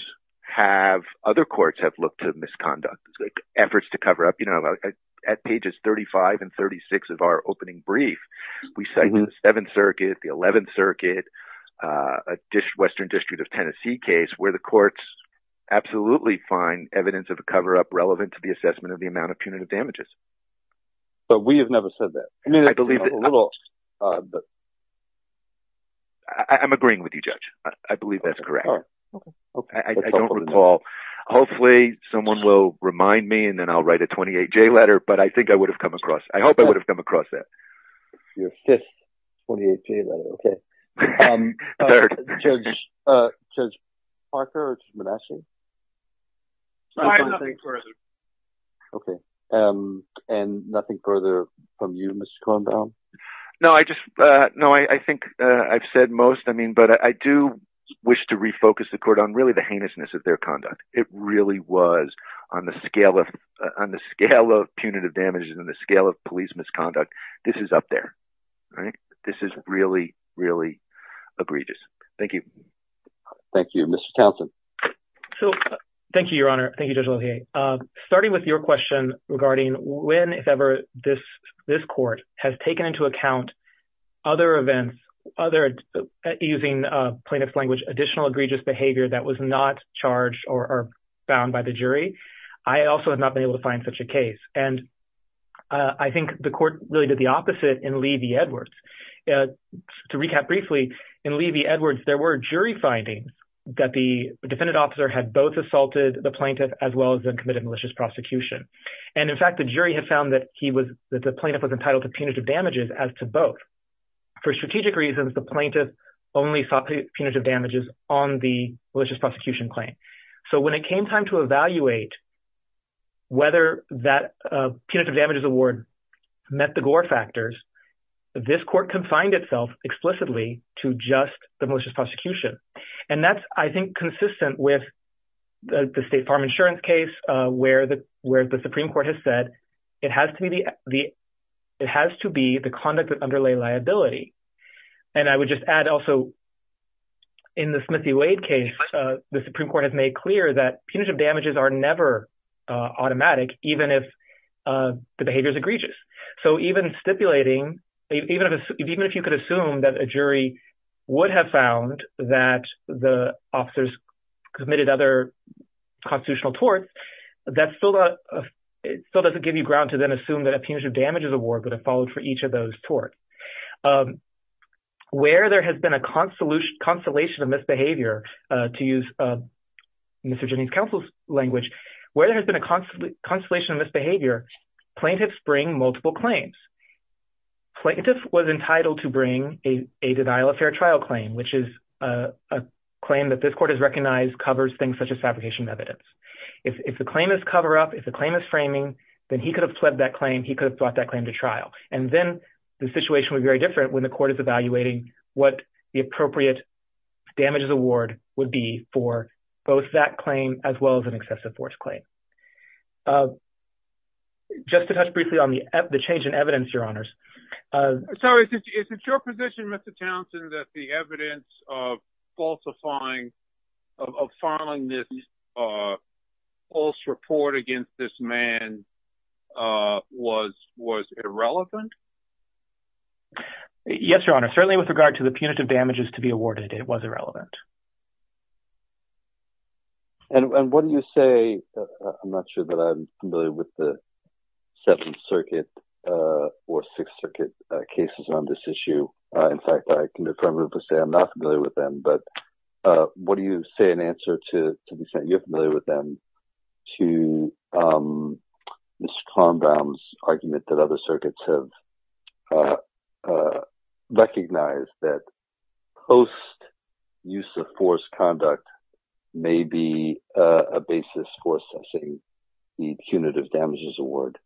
have, other courts have looked at misconduct efforts to cover up, you know, at pages 35 and 36 of our opening brief, we say the seventh circuit, the 11th circuit, a district, Western district of Tennessee case where the courts absolutely find evidence of a cover-up relevant to the assessment of the amount of punitive damages. But we have never said that. I'm agreeing with you, Judge. I believe that's correct. I don't recall. Hopefully someone will remind me and then I'll write a 28-J letter, but I think I would have come across, I hope I would have come across that. Your fifth 28-J letter, okay. Judge Parker or Judge Menasseh? Okay. And nothing further from you, Mr. Kornbaum? No, I just, no, I think I've said most, I mean, but I do wish to refocus the court on really the heinousness of their conduct. It really was on the scale of punitive damages and the scale of police misconduct. This is up there, right? This is really, really egregious. Thank you. Thank you. Mr. Thompson? So thank you, Your Honor. Thank you, Judge Lothier. Starting with your question regarding when, if ever, this court has taken into account other events, using plaintiff's language, additional egregious behavior that was not charged or bound by the jury, I also have not been able to find such a case. And I think the court really did the opposite in Levy-Edwards. To recap briefly, in Levy-Edwards, there were jury findings that the defendant officer had both assaulted the plaintiff as well as then committed malicious prosecution. And in fact, the jury had found that he was, that the plaintiff was entitled to punitive damages as to both. For strategic reasons, the plaintiff only sought punitive damages on the malicious prosecution claim. So when it came time to evaluate whether that punitive damages award met the Gore factors, this court confined itself explicitly to just the malicious prosecution. And that's, I think, consistent with the State Farm Insurance case, where the Supreme Court has said, it has to be the conduct that underlay liability. And I would just add also, in the Smith v. Wade case, the Supreme Court has made clear that punitive damages are never automatic, even if the behavior is egregious. So even stipulating, even if you could assume that a jury would have found that the officers committed other constitutional torts, that still doesn't give you ground to then assume that a punitive damages award would have followed for each of those torts. Where there has been a consolation of misbehavior, to use Mr. Jennings' counsel's language, where there has been a consolation of misbehavior, plaintiffs bring multiple claims. Plaintiff was entitled to bring a denial-of-fair-trial claim, which is a claim that this court has recognized covers things such as fabrication of evidence. If the claim is cover-up, if the claim is framing, then he could have fled that claim, he could have brought that claim to trial. And then the situation would be very different when the court is evaluating what the appropriate damages award would be for both that claim as well as an excessive force claim. Uh, just to touch briefly on the change in evidence, Your Honors. Sorry, is it your position, Mr. Townsend, that the evidence of falsifying, of filing this false report against this man was irrelevant? Yes, Your Honor. Certainly with regard to the punitive damages to be awarded, it was irrelevant. And what do you say, I'm not sure that I'm familiar with the Seventh Circuit or Sixth Circuit cases on this issue. In fact, I can affirmably say I'm not familiar with them, but what do you say in answer to the fact that you're familiar with them, to Mr. Clombrow's argument that circuits have recognized that post-use-of-force conduct may be a basis for assessing the punitive damages award?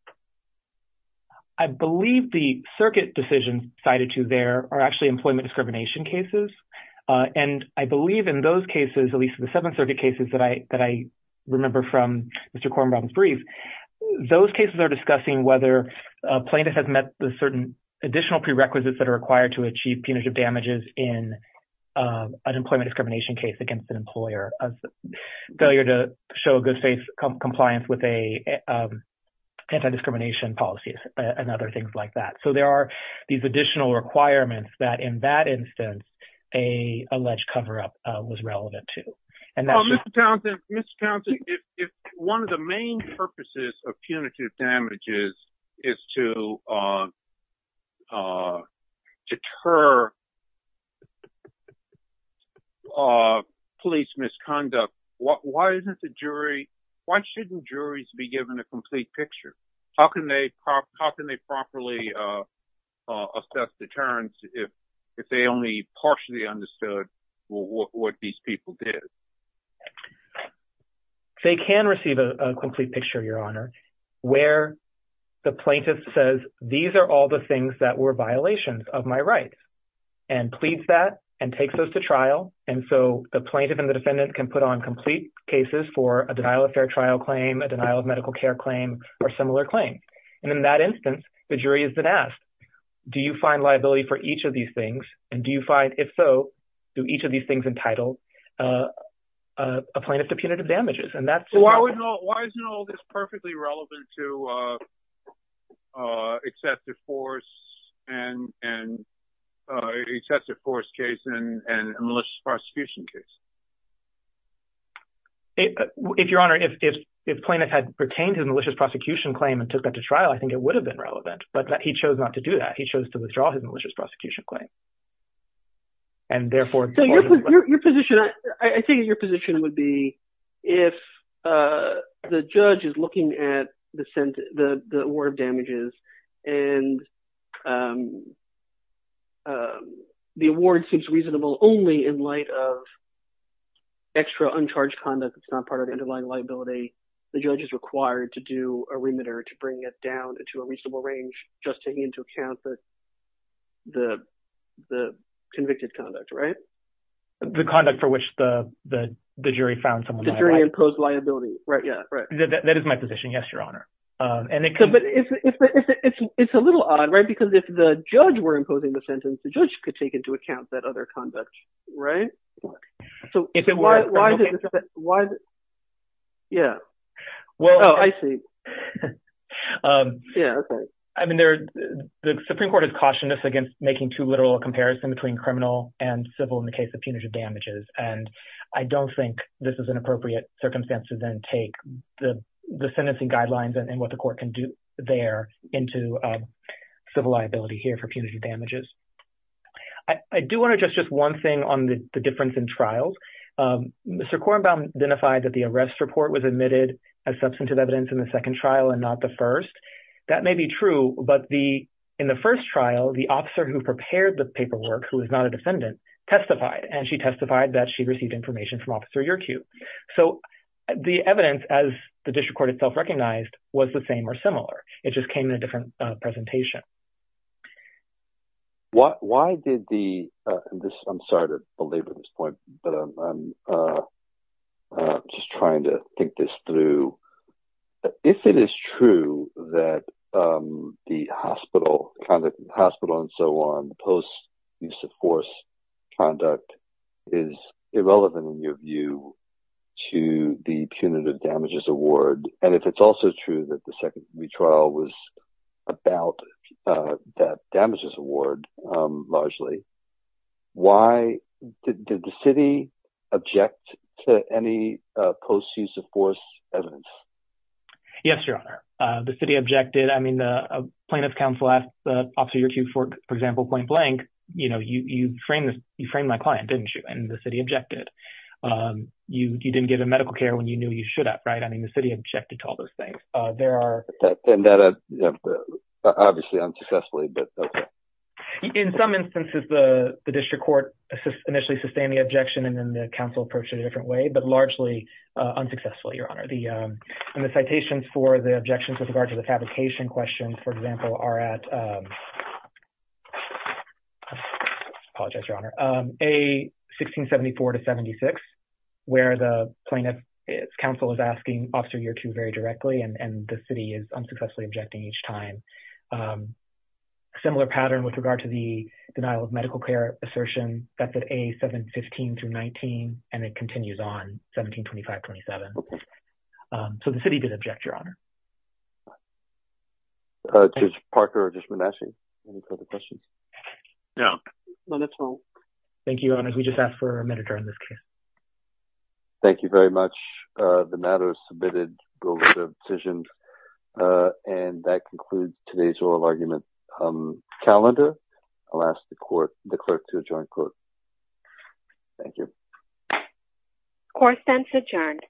I believe the circuit decision cited to there are actually employment discrimination cases. And I believe in those cases, at least the Seventh Circuit cases that I remember from Mr. Clombrow's brief, those cases are discussing whether plaintiff has met the certain additional prerequisites that are required to achieve punitive damages in an employment discrimination case against an employer, a failure to show good faith compliance with anti-discrimination policies and other things like that. So there are these additional requirements that in that instance, a alleged cover-up was relevant to. Mr. Townsend, if one of the main purposes of punitive damages is to deter police misconduct, why shouldn't juries be given a complete picture? How can they properly assess deterrence if they only partially understood what these people did? They can receive a complete picture, Your Honor, where the plaintiff says, these are all the things that were violations of my rights and pleads that and takes those to trial. And so the plaintiff and the defendant can put on complete cases for a denial of fair trial claim, a denial of medical care claim, or similar claim. And in that instance, the jury has been asked, do you find liability for each of these things? And do you find, if so, do each of these things entitle a plaintiff to punitive damages? And that's- Why isn't all this perfectly relevant to a test of force case and a malicious prosecution case? If, Your Honor, if plaintiff had retained his malicious prosecution claim and took that to trial, I think it would have been relevant. But he chose not to do that. He chose to withdraw his malicious prosecution claim. And therefore- So your position, I think your position would be, if the judge is looking at the award of damages and the award seems reasonable only in light of extra uncharged conduct that's not part of underlying liability, the judge is required to do a remitter to bring it down to a reasonable range, just taking into account the convicted conduct, right? The conduct for which the jury found someone liable. The jury imposed liability. Right. Yeah. Right. That is my position. Yes, Your Honor. And it could- But it's a little odd, right? Because if the judge were imposing the sentence, the judge could take into account that conduct, right? So why- Yeah. Well- Oh, I see. Yeah, okay. I mean, the Supreme Court has cautioned us against making too literal a comparison between criminal and civil in the case of punitive damages. And I don't think this is an appropriate circumstance to then take the sentencing guidelines and what the court can do there into civil liability here for punitive damages. I do want to address just one thing on the difference in trials. Mr. Korenbaum identified that the arrest report was admitted as substantive evidence in the second trial and not the first. That may be true, but in the first trial, the officer who prepared the paperwork, who is not a defendant, testified. And she testified that she received information from Officer Yerkew. So the evidence, as the district court itself recognized, was the same or similar. It just why did the... I'm sorry to belabor this point, but I'm just trying to think this through. If it is true that the hospital, conduct in the hospital and so on, post-use of force conduct, is irrelevant in your view to the punitive damages award, and if it's also true that the second retrial was about that damages award largely, why did the city object to any post-use of force evidence? Yes, Your Honor. The city objected. I mean, the plaintiff's counsel asked Officer Yerkew, for example, point blank, you know, you framed my client, didn't you? And the city objected. You didn't give him medical care when you knew you should have, right? I mean, the city objected to all those things. Obviously, unsuccessfully, but okay. In some instances, the district court initially sustained the objection and then the council approached it a different way, but largely unsuccessful, Your Honor. And the citations for the objections with regard to the fabrication questions, for example, are at, I apologize, Your Honor, A-1674-76, where the plaintiff's counsel is asking Officer Yerkew very directly, and the city is unsuccessfully objecting each time. A similar pattern with regard to the denial of medical care assertion, that's at A-715-19, and it continues on 1725-27. So, the city did object, Your Honor. Judge Parker or Judge Manasseh, any further questions? No. No, that's all. Thank you, Your Honor. We just asked for a minute around this case. Thank you very much. The matter is submitted. Go with the decisions. And that concludes today's oral argument calendar. I'll ask the court, the clerk, to adjourn court. Thank you. Court is adjourned.